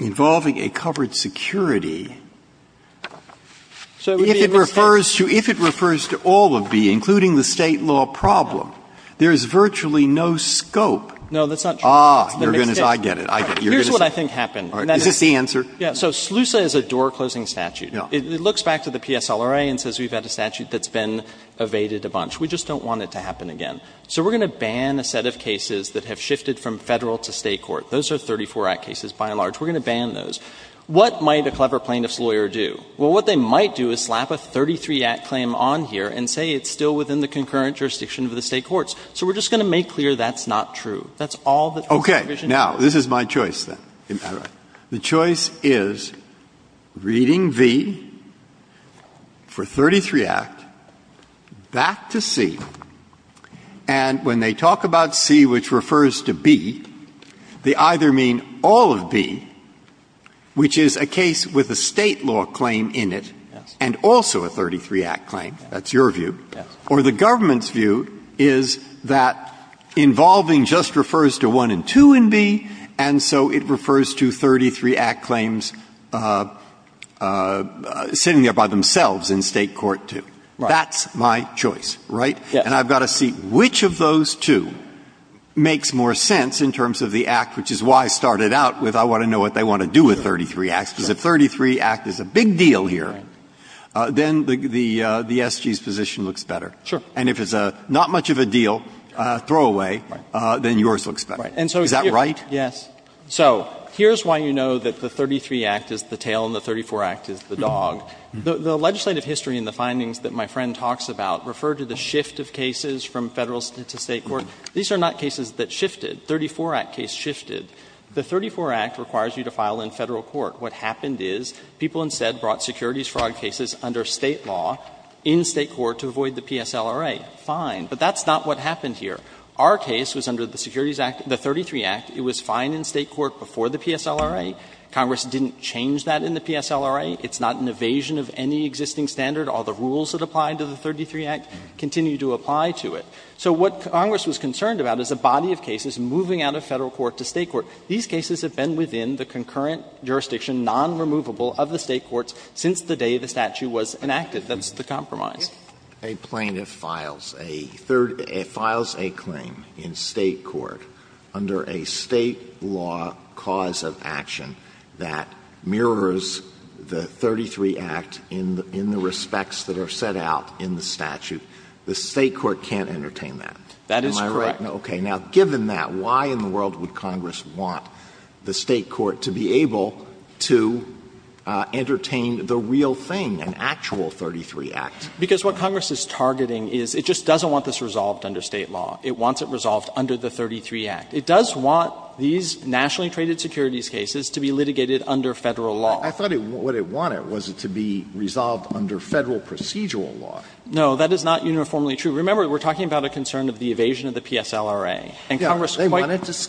involving a covered security, if it refers to all of B, including the State law problem, there is virtually no scope. No, that's not true. Ah, I get it. I get it. Here's what I think happened. Is this the answer? Yeah. So SLUSA is a door-closing statute. Yeah. It looks back to the PSLRA and says we've had a statute that's been evaded a bunch. We just don't want it to happen again. So we're going to ban a set of cases that have shifted from Federal to State court. Those are 34 Act cases by and large. We're going to ban those. What might a clever plaintiff's lawyer do? Well, what they might do is slap a 33 Act claim on here and say it's still within the concurrent jurisdiction of the State courts. So we're just going to make clear that's not true. That's all that the provision says. Okay. Now, this is my choice, then. All right. The choice is reading v for 33 Act, back to C, and when they talk about C, which refers to B, they either mean all of B, which is a case with a State law claim that is a 33 Act claim in it, and also a 33 Act claim, that's your view, or the government's view is that involving just refers to 1 and 2 in B, and so it refers to 33 Act claims sitting there by themselves in State court 2. Right. That's my choice, right? Yeah. And I've got to see which of those two makes more sense in terms of the Act, which is why I started out with I want to know what they want to do with 33 Acts, because if the 33 Act is a big deal here, then the S.G.'s position looks better. Sure. And if it's not much of a deal, throwaway, then yours looks better. Is that right? Yes. So here's why you know that the 33 Act is the tail and the 34 Act is the dog. The legislative history and the findings that my friend talks about refer to the shift of cases from Federal to State court. These are not cases that shifted. The 34 Act case shifted. The 34 Act requires you to file in Federal court. What happened is people instead brought securities fraud cases under State law in State court to avoid the PSLRA. Fine. But that's not what happened here. Our case was under the Securities Act, the 33 Act. It was fine in State court before the PSLRA. Congress didn't change that in the PSLRA. It's not an evasion of any existing standard. All the rules that apply to the 33 Act continue to apply to it. So what Congress was concerned about is a body of cases moving out of Federal court to State court. These cases have been within the concurrent jurisdiction, non-removable, of the State courts since the day the statute was enacted. That's the compromise. A plaintiff files a third – files a claim in State court under a State law cause of action that mirrors the 33 Act in the respects that are set out in the statute. The State court can't entertain that. That is correct. Am I right? Okay. Now, given that, why in the world would Congress want the State court to be able to entertain the real thing, an actual 33 Act? Because what Congress is targeting is it just doesn't want this resolved under State law. It wants it resolved under the 33 Act. It does want these nationally traded securities cases to be litigated under Federal law. I thought what it wanted was it to be resolved under Federal procedural law. No, that is not uniformly true. Remember, we are talking about a concern of the evasion of the PSLRA. And Congress quite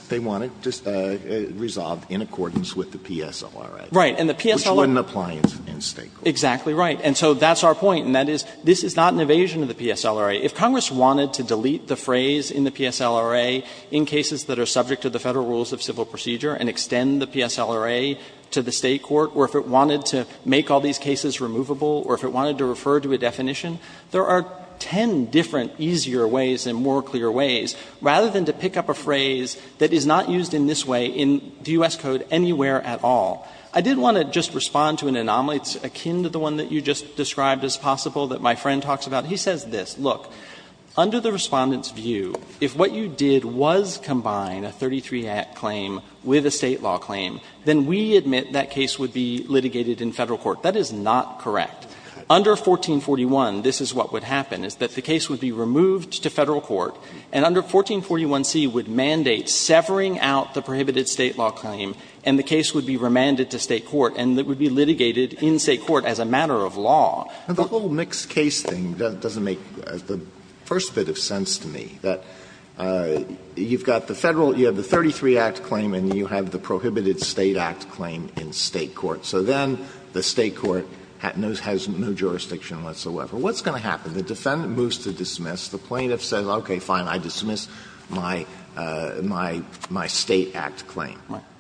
– They wanted to resolve in accordance with the PSLRA. Right. And the PSLRA – Which wouldn't apply in State court. Exactly right. And so that's our point, and that is this is not an evasion of the PSLRA. If Congress wanted to delete the phrase in the PSLRA in cases that are subject to the Federal rules of civil procedure and extend the PSLRA to the State court, or if it wanted to make all these cases removable, or if it wanted to refer to a definition, there are ten different easier ways and more clear ways, rather than to pick up a phrase that is not used in this way in the U.S. Code anywhere at all. I did want to just respond to an anomaly that's akin to the one that you just described as possible that my friend talks about. He says this. Look, under the Respondent's view, if what you did was combine a 33 Act claim with a State law claim, then we admit that case would be litigated in Federal court. That is not correct. Under 1441, this is what would happen, is that the case would be removed to Federal court, and under 1441c would mandate severing out the prohibited State law claim, and the case would be remanded to State court, and it would be litigated in State court as a matter of law. Alitoson The whole mixed case thing doesn't make the first bit of sense to me. That you've got the Federal, you have the 33 Act claim, and you have the prohibited State Act claim in State court. So then the State court has no jurisdiction whatsoever. What's going to happen? The defendant moves to dismiss. The plaintiff says, okay, fine, I dismiss my State Act claim.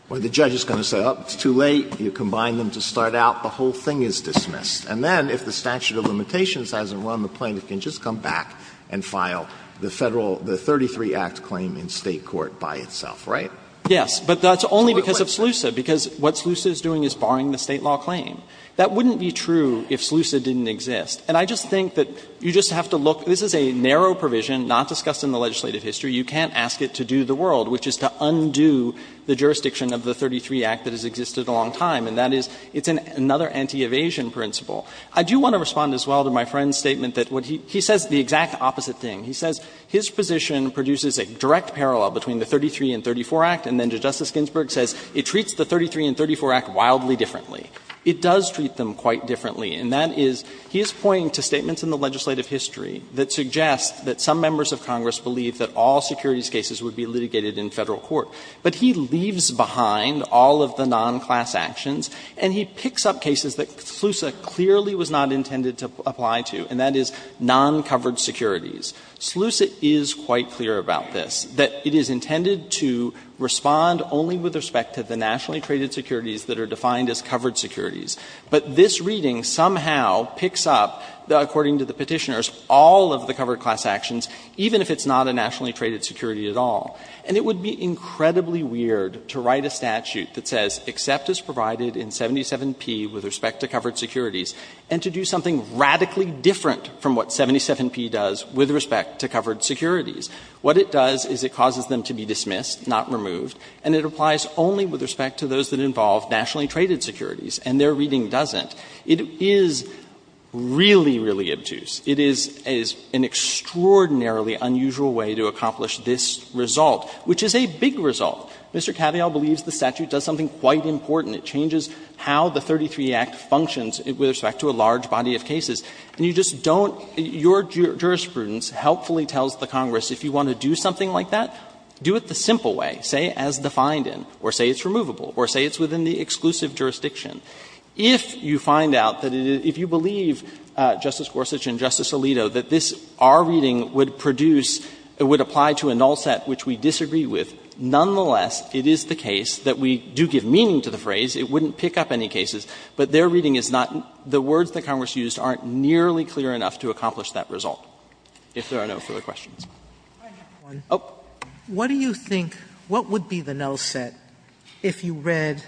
Or the judge is going to say, oh, it's too late, you combine them to start out, the whole thing is dismissed. And then if the statute of limitations hasn't run, the plaintiff can just come back and file the Federal, the 33 Act claim in State court by itself, right? Yes, but that's only because of SLUSA, because what SLUSA is doing is barring the State law claim. That wouldn't be true if SLUSA didn't exist. And I just think that you just have to look – this is a narrow provision not discussed in the legislative history. You can't ask it to do the world, which is to undo the jurisdiction of the 33 Act that has existed a long time, and that is, it's another anti-evasion principle. I do want to respond as well to my friend's statement that he says the exact opposite thing. He says his position produces a direct parallel between the 33 and 34 Act, and then Justice Ginsburg says it treats the 33 and 34 Act wildly differently. It does treat them quite differently, and that is, he is pointing to statements in the legislative history that suggest that some members of Congress believe that all securities cases would be litigated in Federal court. But he leaves behind all of the non-class actions, and he picks up cases that SLUSA clearly was not intended to apply to, and that is non-covered securities. SLUSA is quite clear about this, that it is intended to respond only with respect to the nationally traded securities that are defined as covered securities. But this reading somehow picks up, according to the Petitioners, all of the covered class actions, even if it's not a nationally traded security at all. And it would be incredibly weird to write a statute that says, except as provided in 77P with respect to covered securities, and to do something radically different from what 77P does with respect to covered securities. What it does is it causes them to be dismissed, not removed, and it applies only with respect to those that involve nationally traded securities, and their reading doesn't. It is really, really obtuse. It is an extraordinarily unusual way to accomplish this result, which is a big result. Mr. Cavill believes the statute does something quite important. And you just don't — your jurisprudence helpfully tells the Congress, if you want to do something like that, do it the simple way, say, as defined in, or say it's removable, or say it's within the exclusive jurisdiction. If you find out that it is — if you believe, Justice Gorsuch and Justice Alito, that this — our reading would produce — would apply to a null set which we disagree with, nonetheless, it is the case that we do give meaning to the phrase. It wouldn't pick up any cases, but their reading is not — the words that Congress used aren't nearly clear enough to accomplish that result, if there are no further Sotomayor, what do you think — what would be the null set if you read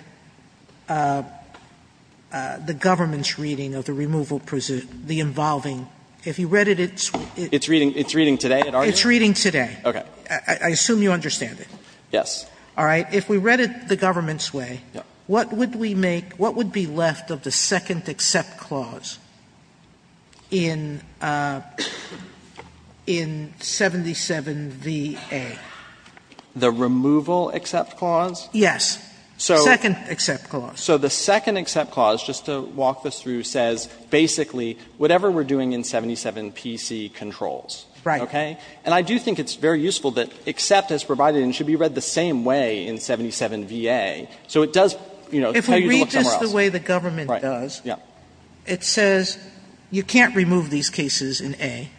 the government's reading of the removal — the involving — if you read it, it's — It's reading today? It's reading today. Okay. I assume you understand it. Yes. All right. If we read it the government's way, what would we make — what would be left of the second accept clause in — in 77VA? The removal accept clause? Yes. So — Second accept clause. So the second accept clause, just to walk this through, says basically whatever we're doing in 77PC controls. Right. Okay? And I do think it's very useful that except is provided and should be read the same way in 77VA, so it does, you know, tell you to look somewhere else. But if you look at the way the government does, it says you can't remove these cases in A,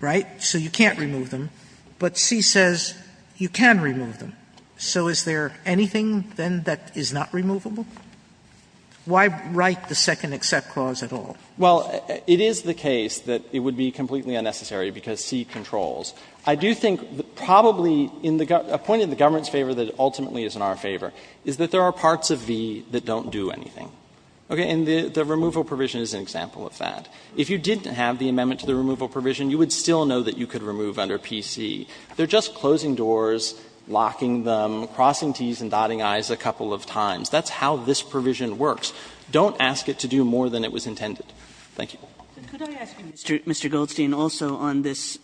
right, so you can't remove them, but C says you can remove them. So is there anything, then, that is not removable? Why write the second accept clause at all? Well, it is the case that it would be completely unnecessary because C controls. I do think probably in the — a point in the government's favor that ultimately is in our favor is that there are parts of V that don't do anything. Okay? And the — the removal provision is an example of that. If you didn't have the amendment to the removal provision, you would still know that you could remove under PC. They're just closing doors, locking them, crossing Ts and dotting Is a couple of times. That's how this provision works. Don't ask it to do more than it was intended. Thank you. Could I ask you, Mr. — Mr. Goldstein, also on this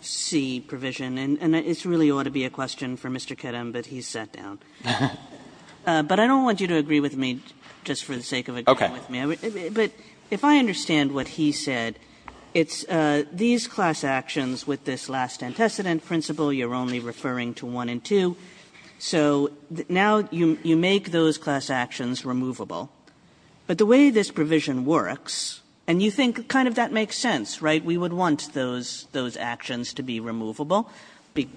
C provision? And it really ought to be a question for Mr. Kedem, but he's sat down. But I don't want you to agree with me just for the sake of agreeing with me. Okay. But if I understand what he said, it's these class actions with this last antecedent principle, you're only referring to 1 and 2, so now you make those class actions removable. But the way this provision works, and you think kind of that makes sense, right? We would want those — those actions to be removable. Be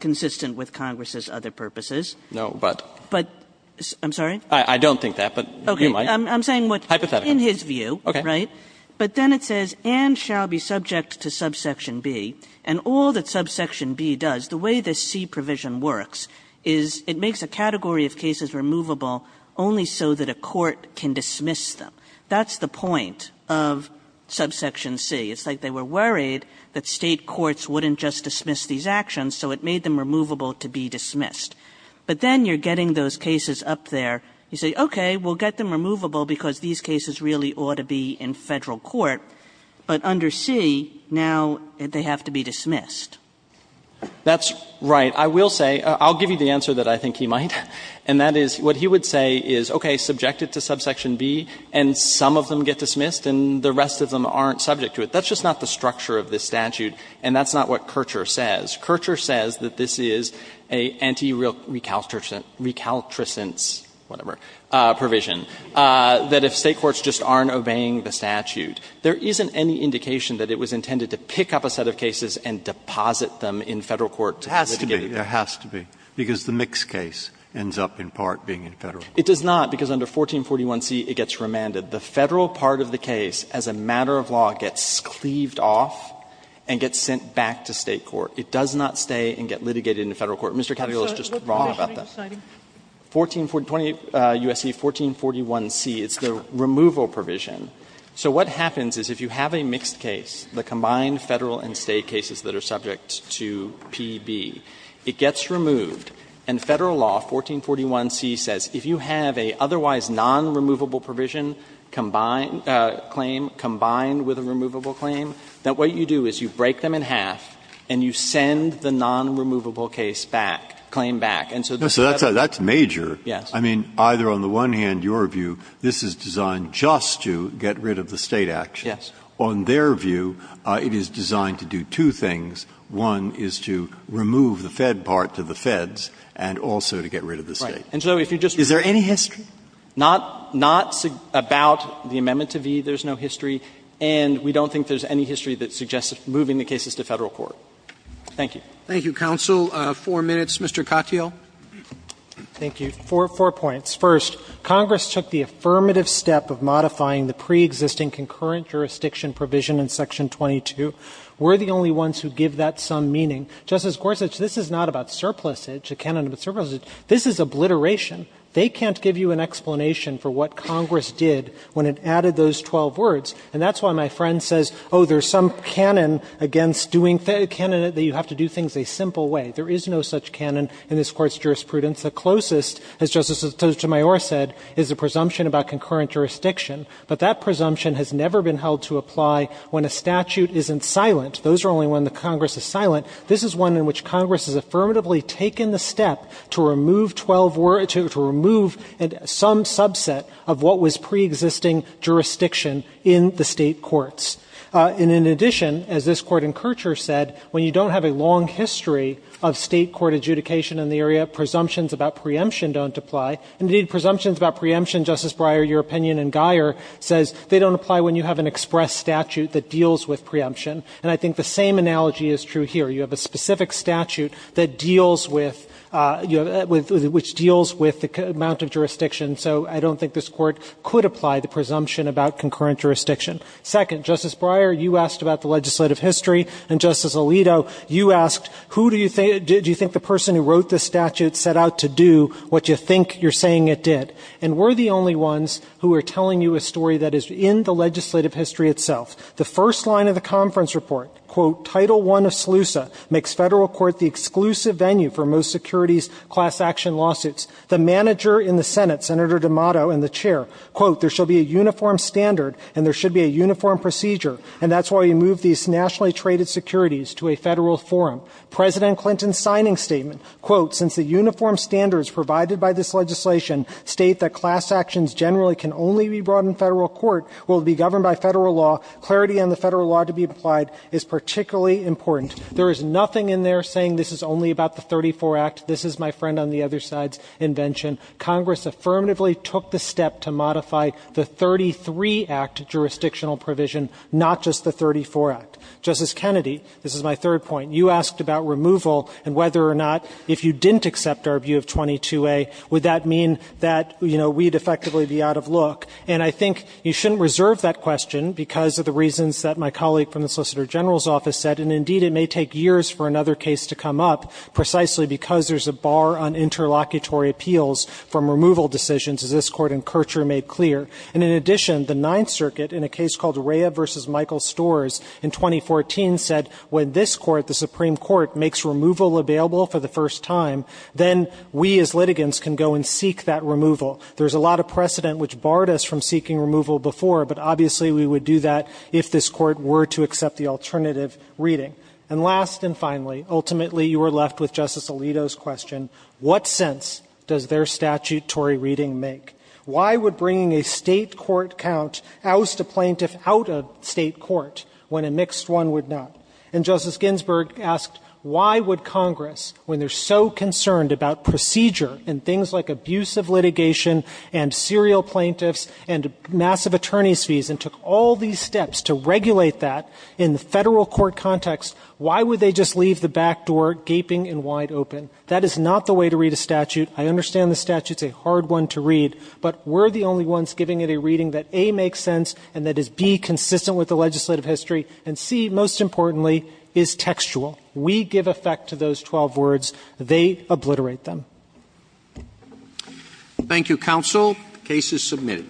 consistent with Congress's other purposes. No, but — But — I'm sorry? I don't think that, but you might. Okay. I'm saying what — Hypothetically. In his view, right? Okay. But then it says, and shall be subject to subsection B. And all that subsection B does, the way this C provision works is it makes a category of cases removable only so that a court can dismiss them. That's the point of subsection C. It's like they were worried that State courts wouldn't just dismiss these actions, so it made them removable to be dismissed. But then you're getting those cases up there. You say, okay, we'll get them removable because these cases really ought to be in Federal court, but under C, now they have to be dismissed. That's right. I will say — I'll give you the answer that I think he might. And that is, what he would say is, okay, subject it to subsection B, and some of them get dismissed, and the rest of them aren't subject to it. But that's just not the structure of this statute, and that's not what Kirchherr says. Kirchherr says that this is an anti-recaltricence — recaltricence, whatever — provision, that if State courts just aren't obeying the statute, there isn't any indication that it was intended to pick up a set of cases and deposit them in Federal court to litigate them. It has to be. It has to be, because the mixed case ends up in part being in Federal court. It does not, because under 1441c, it gets remanded. The Federal part of the case, as a matter of law, gets cleaved off and gets sent back to State court. It does not stay and get litigated in Federal court. Mr. Cattaglia is just wrong about that. Sotomayor, what provision are you citing? 1440 — 20 U.S.C. 1441c, it's the removal provision. So what happens is, if you have a mixed case, the combined Federal and State cases that are subject to P.B., it gets removed, and Federal law, 1441c, says if you have a otherwise non-removable provision, combined — claim, combined with a removable claim, that what you do is you break them in half and you send the non-removable case back, claim back. And so that's a — Breyer, that's major. Yes. I mean, either on the one hand, your view, this is designed just to get rid of the State action. Yes. On their view, it is designed to do two things. One is to remove the Fed part to the Feds and also to get rid of the State. Right. And so if you just — Is there any history? Not — not about the amendment to v. There's no history. And we don't think there's any history that suggests moving the cases to Federal court. Thank you. Thank you, counsel. Four minutes. Mr. Katyal. Thank you. Four points. First, Congress took the affirmative step of modifying the preexisting concurrent jurisdiction provision in Section 22. We're the only ones who give that some meaning. Justice Gorsuch, this is not about surplusage, the canon of surplusage. This is obliteration. They can't give you an explanation for what Congress did when it added those 12 words. And that's why my friend says, oh, there's some canon against doing — canon that you have to do things a simple way. There is no such canon in this Court's jurisprudence. The closest, as Justice Sotomayor said, is the presumption about concurrent jurisdiction. But that presumption has never been held to apply when a statute isn't silent. Those are only when the Congress is silent. This is one in which Congress has affirmatively taken the step to remove 12 words to remove some subset of what was preexisting jurisdiction in the state courts. And in addition, as this Court in Kirchherr said, when you don't have a long history of state court adjudication in the area, presumptions about preemption don't apply. Indeed, presumptions about preemption, Justice Breyer, your opinion and Geyer, says they don't apply when you have an express statute that deals with preemption. And I think the same analogy is true here. You have a specific statute that deals with — which deals with the amount of jurisdiction, so I don't think this Court could apply the presumption about concurrent jurisdiction. Second, Justice Breyer, you asked about the legislative history, and Justice Alito, you asked, who do you think — do you think the person who wrote this statute set out to do what you think you're saying it did? And we're the only ones who are telling you a story that is in the legislative history itself. The first line of the conference report, quote, Title I of SLUSA, makes federal court the exclusive venue for most securities class action lawsuits. The manager in the Senate, Senator D'Amato, and the chair, quote, there shall be a uniform standard and there should be a uniform procedure, and that's why we moved these nationally traded securities to a federal forum. President Clinton's signing statement, quote, since the uniform standards provided by this legislation state that class actions generally can only be brought in federal court, will be governed by federal law, clarity on the federal law to be applied is particularly important. There is nothing in there saying this is only about the 34 Act. This is, my friend, on the other side's invention. Congress affirmatively took the step to modify the 33 Act jurisdictional provision, not just the 34 Act. Justice Kennedy, this is my third point. You asked about removal and whether or not, if you didn't accept our view of 22a, would that mean that, you know, we'd effectively be out of look. And I think you shouldn't reserve that question because of the reasons that my colleague from the Solicitor General's office said, and indeed it may take years for another case to come up precisely because there's a bar on interlocutory appeals from removal decisions, as this Court in Kirchherr made clear. And in addition, the Ninth Circuit, in a case called Rea v. Michael Storrs in 2014, said when this Court, the Supreme Court, makes removal available for the first time, then we as litigants can go and seek that removal. There's a lot of precedent which barred us from seeking removal before, but obviously we would do that if this Court were to accept the alternative reading. And last and finally, ultimately you were left with Justice Alito's question, what sense does their statutory reading make? Why would bringing a State court count oust a plaintiff out of State court when a mixed one would not? And Justice Ginsburg asked, why would Congress, when they're so concerned about procedure and things like abusive litigation and serial plaintiffs and massive attorney's fees, and took all these steps to regulate that in the Federal court context, why would they just leave the back door gaping and wide open? That is not the way to read a statute. I understand the statute's a hard one to read, but we're the only ones giving it a reading that, A, makes sense and that is, B, consistent with the legislative history, and C, most importantly, is textual. We give effect to those 12 words. They obliterate them. Thank you, counsel. The case is submitted.